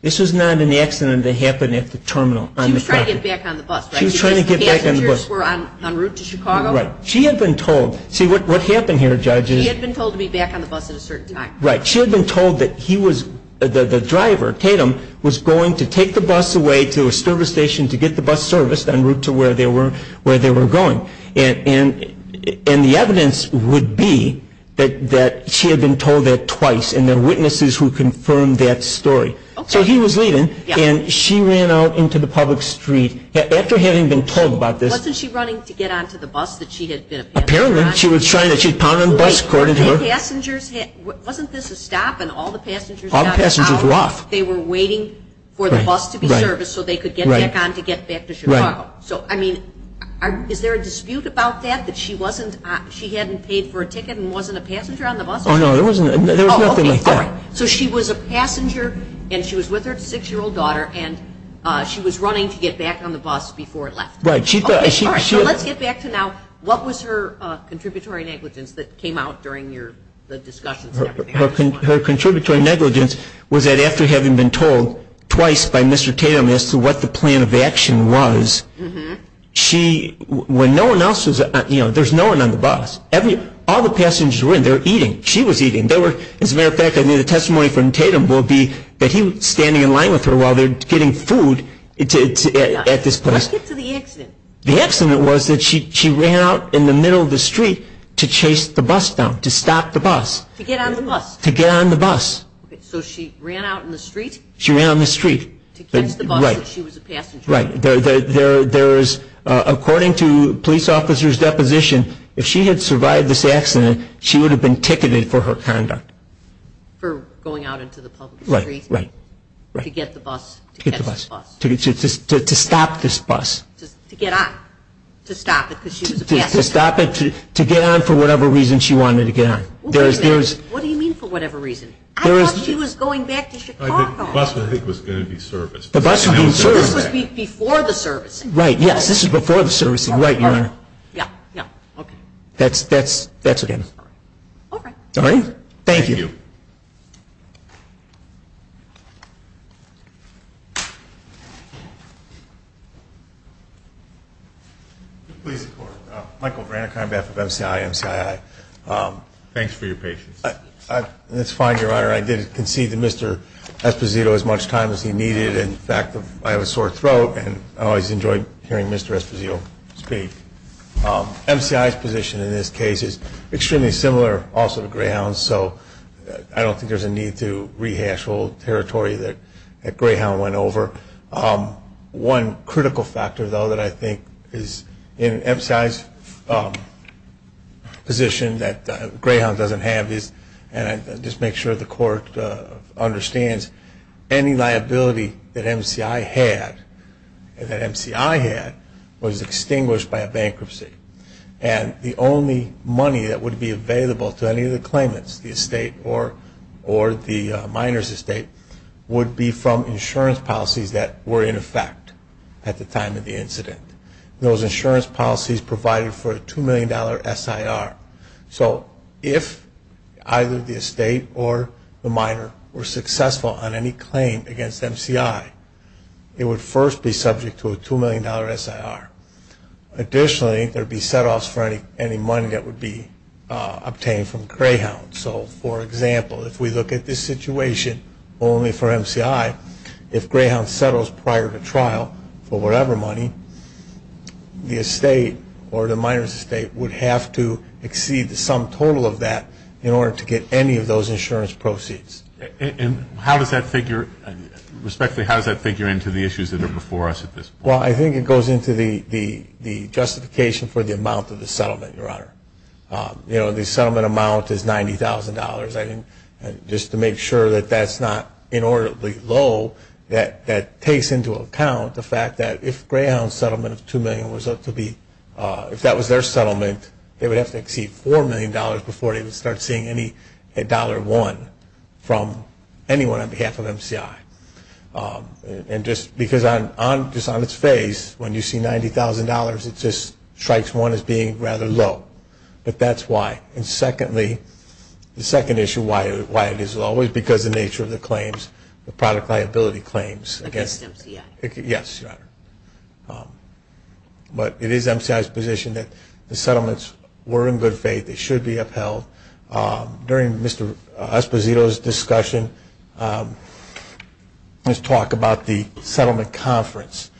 This was not an accident that happened at the terminal. She was trying to get back on the bus. She was trying to get back on the bus. The passengers were en route to Chicago. Right. She had been told. See, what's happened here, Judge, is. She had been told to be back on the bus at a certain time. Right. She had been told that he was, the driver, Tatum, was going to take the bus away to a service station to get the bus serviced en route to where they were going. And the evidence would be that she had been told that twice, and there were witnesses who confirmed that story. So he was leaving, and she ran out into the public street. After having been told about this. Wasn't she running to get onto the bus that she had been on? Apparently, she was trying to. She was piling on the bus, according to her. Wasn't this a stop, and all the passengers got out? All the passengers left. They were waiting for the bus to be serviced so they could get back on to get back to Chicago. So, I mean, is there a dispute about that? That she hadn't paid for a ticket and wasn't a passenger on the bus? Oh, no. There was nothing like that. So she was a passenger, and she was with her six-year-old daughter, and she was running to get back on the bus before it left. Right. So let's get back to now, what was her contributory negligence that came out during the discussion? Her contributory negligence was that after having been told twice by Mr. Tatum as to what the plan of action was, she, when no one else was, you know, there's no one on the bus. Every, all the passengers were in there eating. She was eating. They were, as a matter of fact, I mean, the testimony from Tatum will be that he was standing in line with her while they were getting food at this bus. Let's get to the accident. The accident was that she ran out in the middle of the street to chase the bus stop, to stop the bus, to get on the bus. Okay. So she ran out in the street? She ran on the street. To catch the bus because she was a passenger. Right. There's, according to police officers' deposition, if she had survived this accident, she would have been ticketed for her conduct. For going out into the public street. Right, right. To get the bus. To get the bus. To stop this bus. To get on. To stop it because she was a passenger. To stop it, to get on for whatever reason she wanted to get on. There's, there's. What do you mean for whatever reason? I thought she was going back to Chicago. The bus, I think, was going to be serviced. The bus was going to be serviced. This was before the service. Right, yes. This was before the service. You're right, you're right. Yeah, yeah. Okay. That's, that's, that's it then. All right. All right. Thank you. Please, of course, Michael Branson, I'm back with MCI, MCII, thanks for your patience. I, I, it's fine, your honor. I didn't concede to Mr. Esposito as much time as he needed. In fact, I have a sore throat and I always enjoyed hearing Mr. Esposito speak. MCI's position in this case is extremely similar, also to Greyhound's, so I don't think there's a need to rehash all the territory that, that Greyhound went over. One critical factor, though, that I think is in MCI's position that Greyhound doesn't have is, and I just make sure the court understands, any liability that MCI had, that MCI had, was extinguished by a bankruptcy. And the only money that would be available to any of the claimants, the estate or, the minor's estate, would be from insurance policies that were in effect at the time of the incident, those insurance policies provided for a $2 million SIR. So, if either the estate or the minor were successful on any claim against MCI, it would first be subject to a $2 million SIR. Additionally, there'd be setoffs for any, any money that would be obtained from Greyhound. So, for example, if we look at this situation, only for MCI, if Greyhound settles prior to trial for whatever money, the estate or the minor's estate would have to exceed the sum total of that in order to get any of those insurance proceeds. And how does that figure, respectively, how does that figure into the issues that are before us at this point? Well, I think it goes into the, the, the justification for the amount of the settlement, Your Honor. You know, the settlement amount is $90,000. I didn't, just to make sure that that's not inordinately low, that, that takes into account the fact that if Greyhound's settlement of $2 million was up to be, if that was their settlement, they would have to exceed $4 million before they would start seeing any, a $1 from anyone on behalf of MCI. And just, because on, on, just on its face, when you see $90,000, it just strikes one as being rather low, but that's why. And secondly, the second issue, why, why it is always because of the nature of the claims, the product liability claims against MCI, yes, Your Honor. But it is MCI's position that the settlements were in good faith, they should be upheld. During Mr. Esposito's discussion, let's talk about the settlement conference.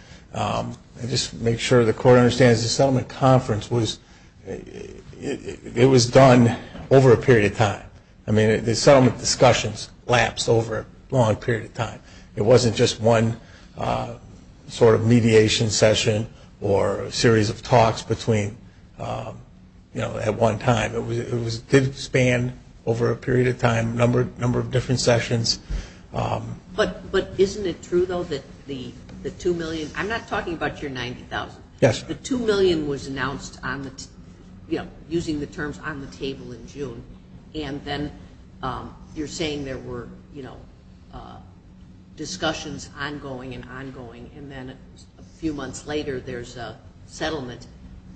Just to make sure the Court understands, the settlement conference was, it was done over a period of time. I mean, the settlement discussions lapsed over a long period of time. It wasn't just one sort of mediation session or a series of talks between, you know, at one time. It was, it did span over a period of time, a number, a number of different sessions. But, but isn't it true, though, that the, the $2 million, I'm not talking about your $90,000. Yes. The $2 million was announced on the, you know, using the terms on the table in June. And then you're saying there were, you know, discussions ongoing and ongoing. And then a few months later, there's a settlement.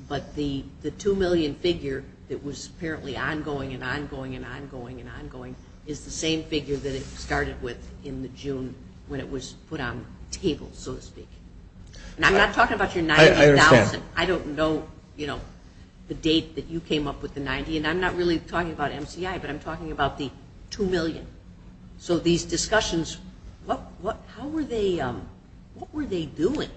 But the, the $2 million figure that was apparently ongoing and ongoing and ongoing and ongoing is the same figure that it started with in the June when it was put on the table, so to speak. And I'm not talking about your $90,000. I don't know, you know, the date that you came up with the 90. And I'm not really talking about MCI, but I'm talking about the $2 million. So these discussions, what, what, how were they, what were they doing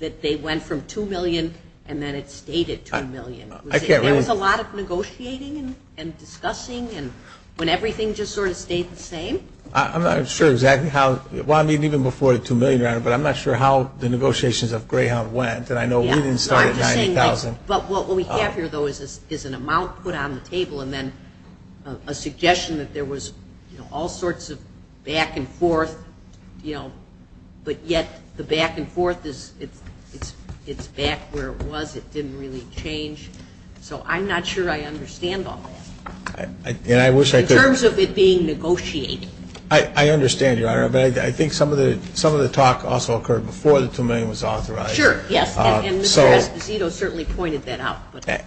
that they went from $2 million and then it stayed at $2 million? There was a lot of negotiating and discussing and when everything just sort of stayed the same. I'm not sure exactly how, well, I mean, even before the $2 million round, but I'm not sure how the negotiations of Greyhound went. Because I know we didn't start at $90,000. But what we have here, though, is an amount put on the table and then a suggestion that there was, you know, all sorts of back and forth, you know. But yet, the back and forth is, it's back where it was. It didn't really change. So I'm not sure I understand all of that. And I wish I could. In terms of it being negotiated. I understand you, Ira. But I think some of the, some of the talks also occurred before the $2 million was authorized. Sure, yes. And Mr. Esposito certainly pointed that out.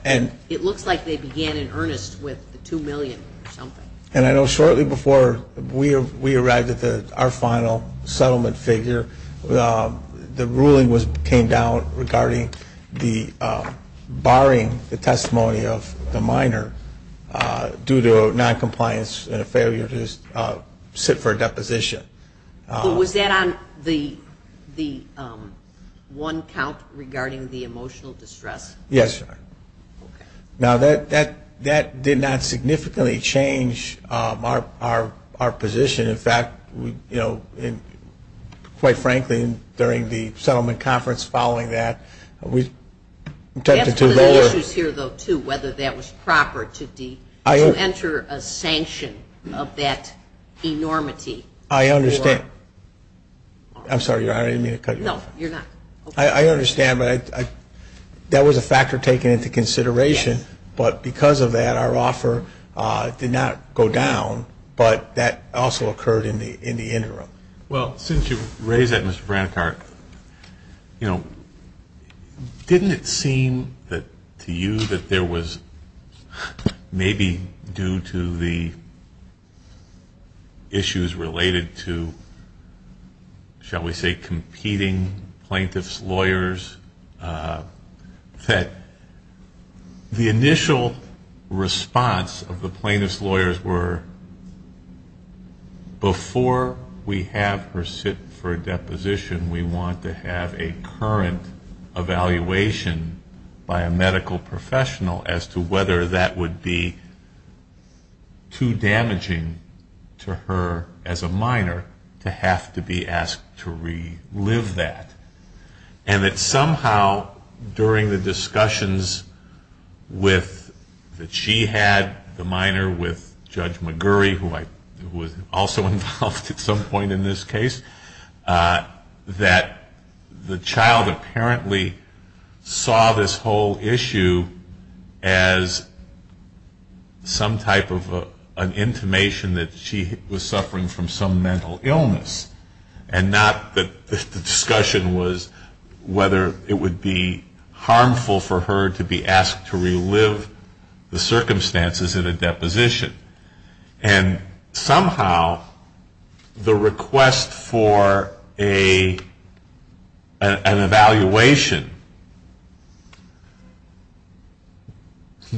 And it looks like they began in earnest with the $2 million or something. And I know shortly before we arrived at our final settlement figure, the ruling was, came down regarding the barring the testimony of the minor due to noncompliance and a failure to sit for a deposition. So was that on the one count regarding the emotional distress? Yes. Now, that did not significantly change our position. In fact, you know, quite frankly, during the settlement conference following that, we've tested to the limit. That's one of the issues here, though, too, whether that was proper to the, to enter a sanction of that enormity. I understand. I'm sorry, Ira. I didn't mean to cut you off. No, you're not. I understand, but I, that was a factor taken into consideration. But because of that, our offer did not go down, but that also occurred in the interim. Well, since you raised that, Mr. Brancard, you know, didn't it seem that to you that there was maybe due to the issues related to, shall we say, competing plaintiff's lawyers that the initial response of the plaintiff's lawyers were, before we have her sit for a deposition, we want to have a current evaluation by a medical professional as to whether that would be too damaging to her as a minor to have to be asked to relive that. And that somehow, during the discussions with, that she had, the minor with Judge McGurry, who I, who was also involved at some point in this case, that the child apparently saw this whole issue as some type of an intimation that she was suffering from some mental illness and not that the discussion was whether it would be harmful for her to be asked to relive the circumstances in a deposition. And somehow, the request for a, an evaluation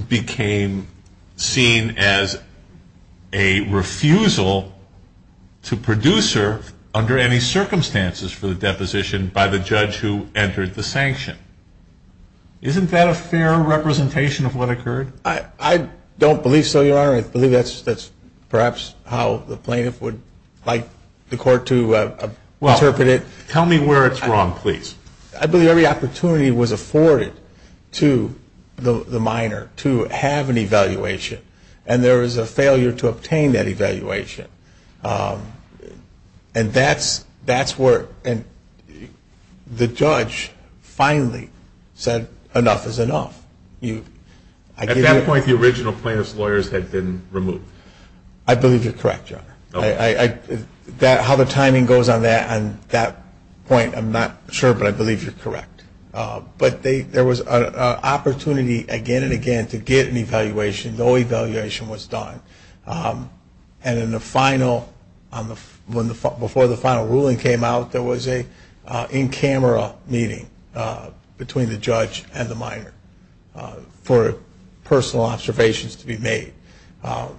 became seen as a refusal to produce her under any circumstances for the deposition by the judge who entered the sanction. Isn't that a fair representation of what occurred? I, I don't believe so, Your Honor. I believe that's, that's perhaps how the plaintiff would like the court to interpret it. Tell me where it's wrong, please. I believe every opportunity was afforded to the minor to have an evaluation. And there was a failure to obtain that evaluation. And that's, that's where, and the judge finally said enough is enough. You, at that point, the original plaintiff's lawyers had been removed. I believe you're correct, Your Honor. I, I, that, how the timing goes on that, on that point, I'm not sure, but I believe you're correct. But they, there was a, a opportunity again and again to get an evaluation. No evaluation was done. And in the final, on the, when the, before the final ruling came out, there was a in-camera meeting between the judge and the minor. For personal observations to be made. And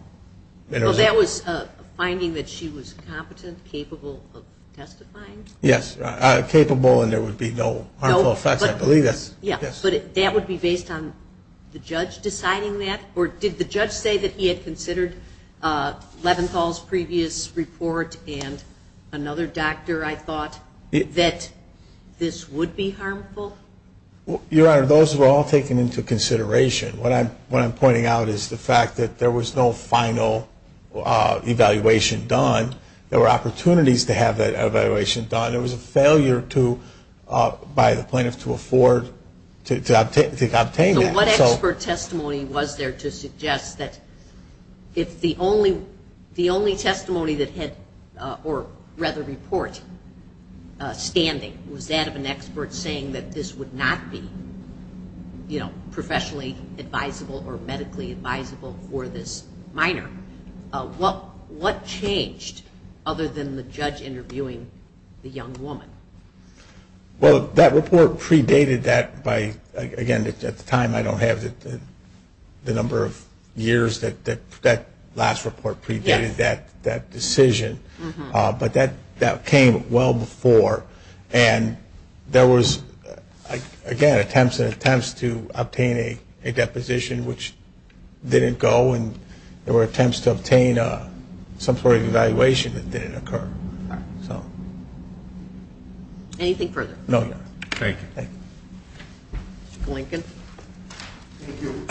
it was. So that was a finding that she was competent, capable of testifying? Yes. Capable and there would be no harmful effects. I believe that's. Yeah. But that would be based on the judge deciding that? Or did the judge say that he had considered Leventhal's previous report and another doctor I thought that this would be harmful? Well, Your Honor, those were all taken into consideration. What I'm, what I'm pointing out is the fact that there was no final evaluation done. There were opportunities to have that evaluation done. There was a failure to, by the plaintiff, to afford, to, to, to obtain that. So what expert testimony was there to suggest that if the only, the only testimony that had, or rather report, standing, was that of an expert saying that this would not be, you know, professionally advisable or medically advisable for this minor? What, what changed other than the judge interviewing the young woman? Well, that report predated that by, again, at the time I don't have the, the number of years that, that, that last report predated that, that decision. But that, that came well before. And there was, again, attempts and attempts to obtain a, a deposition, which didn't go. And there were attempts to obtain a, some sort of evaluation that didn't occur. So. Anything further? No, Your Honor. Thank you. Thank you. Blanket. Thank you.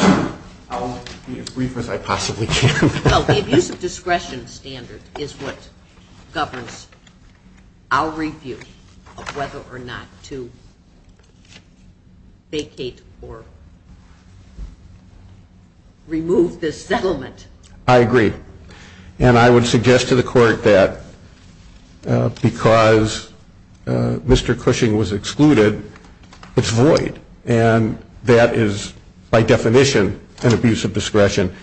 I'll be as brief as I possibly can. Well, the abuse of discretion standard is what governs our review of whether or not to vacate or remove this settlement. I agree. And I would suggest to the court that because Mr. Cushing was excluded, it's void. And that is by definition an abuse of discretion.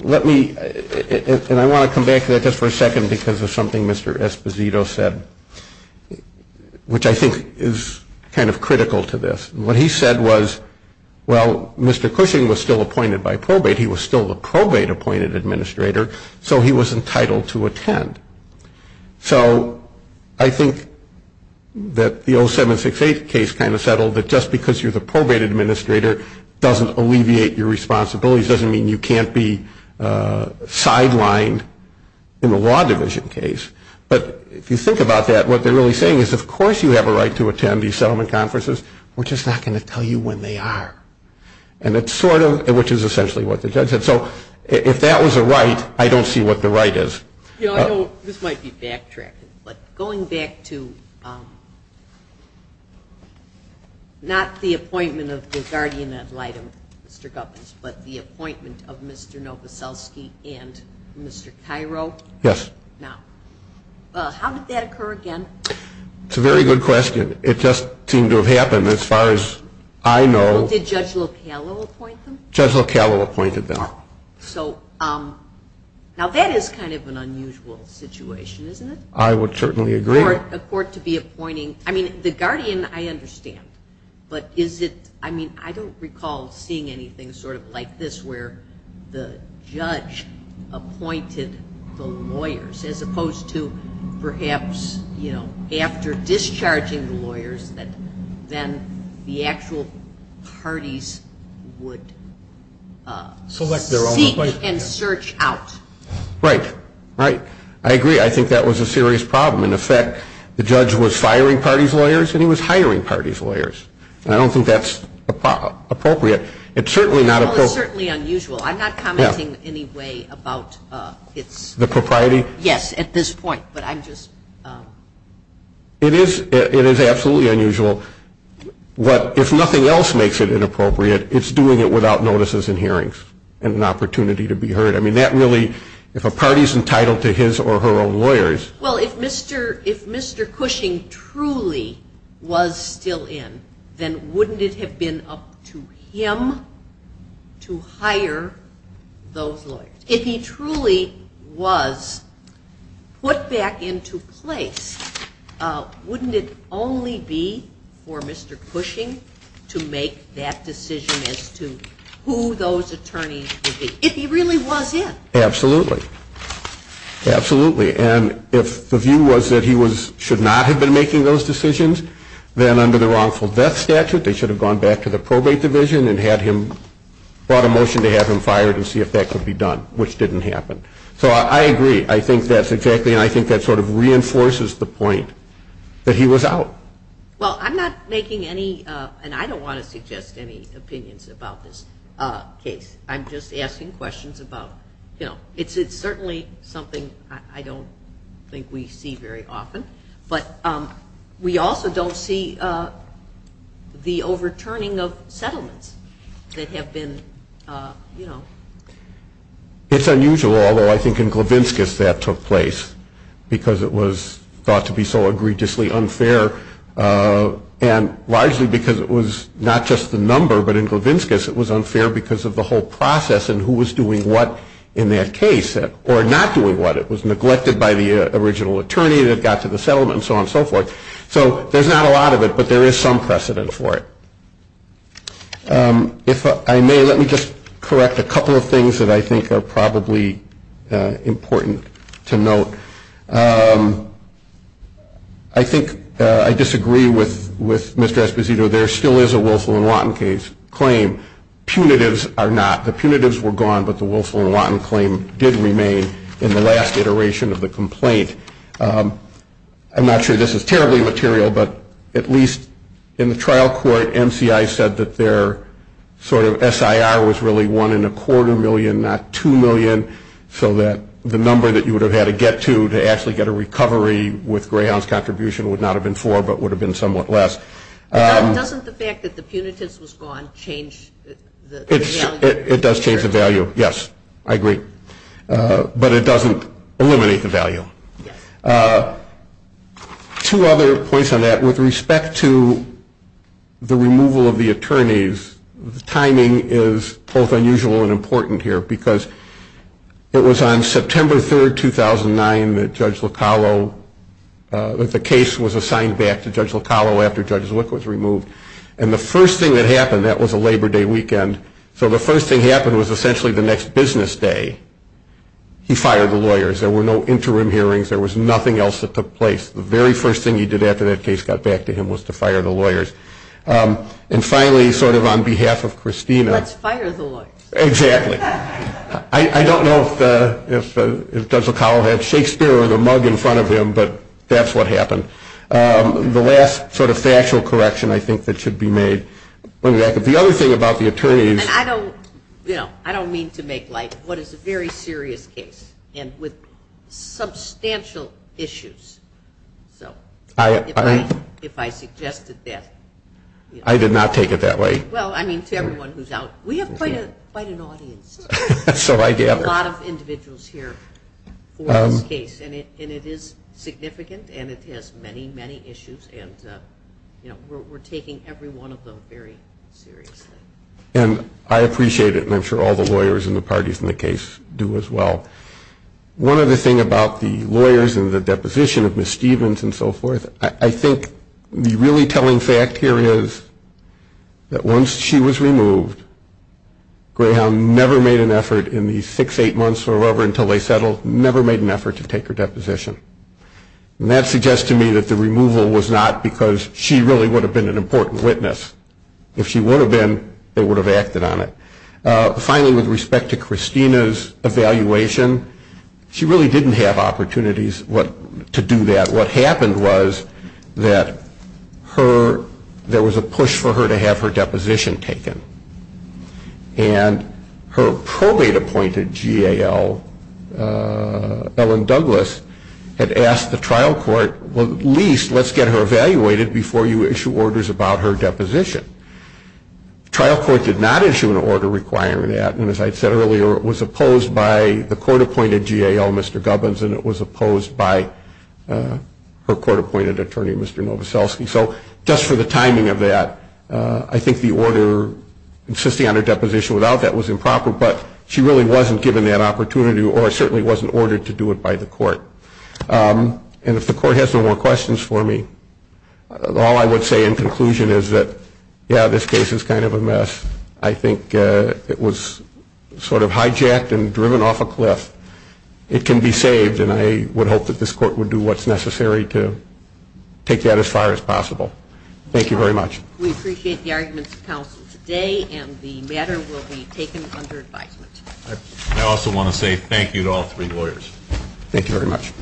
Let me, and I want to come back to that just for a second because of something Mr. Esposito said, which I think is kind of critical to this. What he said was, well, Mr. Cushing was still appointed by probate. He was still the probate appointed administrator. So he was entitled to attend. So I think that the 0768 case kind of settled that just because you're the probate administrator doesn't alleviate your responsibilities doesn't mean you can't be sidelined in the law division case. But if you think about that, what they're really saying is of course you have a right to attend these settlement conferences, which is not going to tell you when they are and it's sort of, which is essentially what the judge said. So if that was a right, I don't see what the right is. This might be backtracking, but going back to not the appointment of the guardian ad litem, Mr. Gubbins, but the appointment of Mr. Novoselsky and Mr. Cairo. Yes. Now, how did that occur again? It's a very good question. It just seemed to have happened as far as I know. Did Judge Locallo appoint them? Judge Locallo appointed them. So, now that is kind of an unusual situation, isn't it? I would certainly agree. For a court to be appointing, I mean, the guardian, I understand, but is it, I mean, I don't recall seeing anything sort of like this where the judge appointed the lawyers as opposed to perhaps, you know, after discharging the lawyers, then the actual parties would... Select their own place. ...seek and search out. Right. Right. I agree. I think that was a serious problem. In effect, the judge was firing parties' lawyers and he was hiring parties' lawyers, and I don't think that's appropriate. It's certainly not appropriate. It's certainly unusual. I'm not commenting in any way about its... The propriety? Yes, at this point, but I'm just... It is absolutely unusual. What, if nothing else makes it inappropriate, it's doing it without notices and hearings and an opportunity to be heard. I mean, that really, if a party's entitled to his or her own lawyers... Well, if Mr. Cushing truly was still in, then wouldn't it have been up to him to hire those lawyers? If he truly was put back into place, wouldn't it only be for Mr. Cushing to decide who those attorneys would be, if he really was him? Absolutely. Absolutely. And if the view was that he should not have been making those decisions, then under the wrongful death statute, they should have gone back to the probate division and brought a motion to have him fired and see if that could be done, which didn't happen. So I agree. I think that's exactly, and I think that sort of reinforces the point that he was out. Well, I'm not making any, and I don't want to suggest any opinions about this, case. I'm just asking questions about, you know, it's certainly something I don't think we see very often, but we also don't see the overturning of settlements that have been, you know... It's unusual, although I think in Glavinskas that took place because it was thought to be so egregiously unfair and wisely because it was not just the case, but because of the whole process and who was doing what in that case or not doing what. It was neglected by the original attorney that got to the settlement and so on and so forth. So there's not a lot of it, but there is some precedent for it. If I may, let me just correct a couple of things that I think are probably important to note. I think I disagree with Mr. Esposito. There still is a Wilson and Watton claim. Punitives are not. The punitives were gone, but the Wilson and Watton claim did remain in the last iteration of the complaint. I'm not sure this is terribly material, but at least in the trial court, NCI said that their sort of SIR was really one and a quarter million, not two million, so that the number that you would have had to get to to actually get a recovery with Grayhound's contribution would not have been four, but would have been somewhat less. Doesn't the fact that the punitives was gone change the value? It does change the value, yes, I agree, but it doesn't eliminate the value. Two other points on that. With respect to the removal of the attorneys, the timing is both unusual and important here because it was on September 3rd, 2009 that Judge Locallo, that and the first thing that happened, that was a Labor Day weekend, so the first thing that happened was essentially the next business day, he fired the lawyers. There were no interim hearings. There was nothing else that took place. The very first thing he did after that case got back to him was to fire the lawyers. And finally, sort of on behalf of Christina, fire the lawyers, exactly. I don't know if Judge Locallo had Shakespeare or the mug in front of him, but that's what happened. The last sort of factual correction I think that should be made, the other thing about the attorneys. I don't, Bill, I don't mean to make like what is a very serious case and with substantial issues, so if I suggested that. I did not take it that way. Well, I mean, to everyone who's out, we have quite an audience, a lot of many, many issues, and we're taking every one of them very seriously. And I appreciate it. And I'm sure all the lawyers in the parties in the case do as well. One other thing about the lawyers and the deposition of Ms. Stevens and so forth, I think the really telling fact here is that once she was removed, Greyhound never made an effort in the six, eight months or whatever until they settled, never made an effort to take her deposition. And that suggests to me that the removal was not because she really would have been an important witness. If she would have been, they would have acted on it. Finally, with respect to Christina's evaluation, she really didn't have opportunities to do that. What happened was that there was a push for her to have her deposition taken. And her probate appointed GAL, Ellen Douglas, had asked the trial court, well, at least let's get her evaluated before you issue orders about her deposition. Trial court did not issue an order requiring that. And as I said earlier, it was opposed by the court appointed GAL, Mr. Gubbins, and it was opposed by her court appointed attorney, Mr. Novoselsky. So just for the timing of that, I think the order insisting on her deposition without that was improper, but she really wasn't given that opportunity or certainly wasn't ordered to do it by the court. And if the court has no more questions for me, all I would say in conclusion is that, yeah, this case is kind of a mess. I think it was sort of hijacked and driven off a cliff. It can be saved. And I would hope that this court would do what's necessary to take that as far as possible. Thank you very much. We appreciate the arguments of counsel today and the matter will be taken under advisement. I also want to say thank you to all three lawyers. Thank you very much.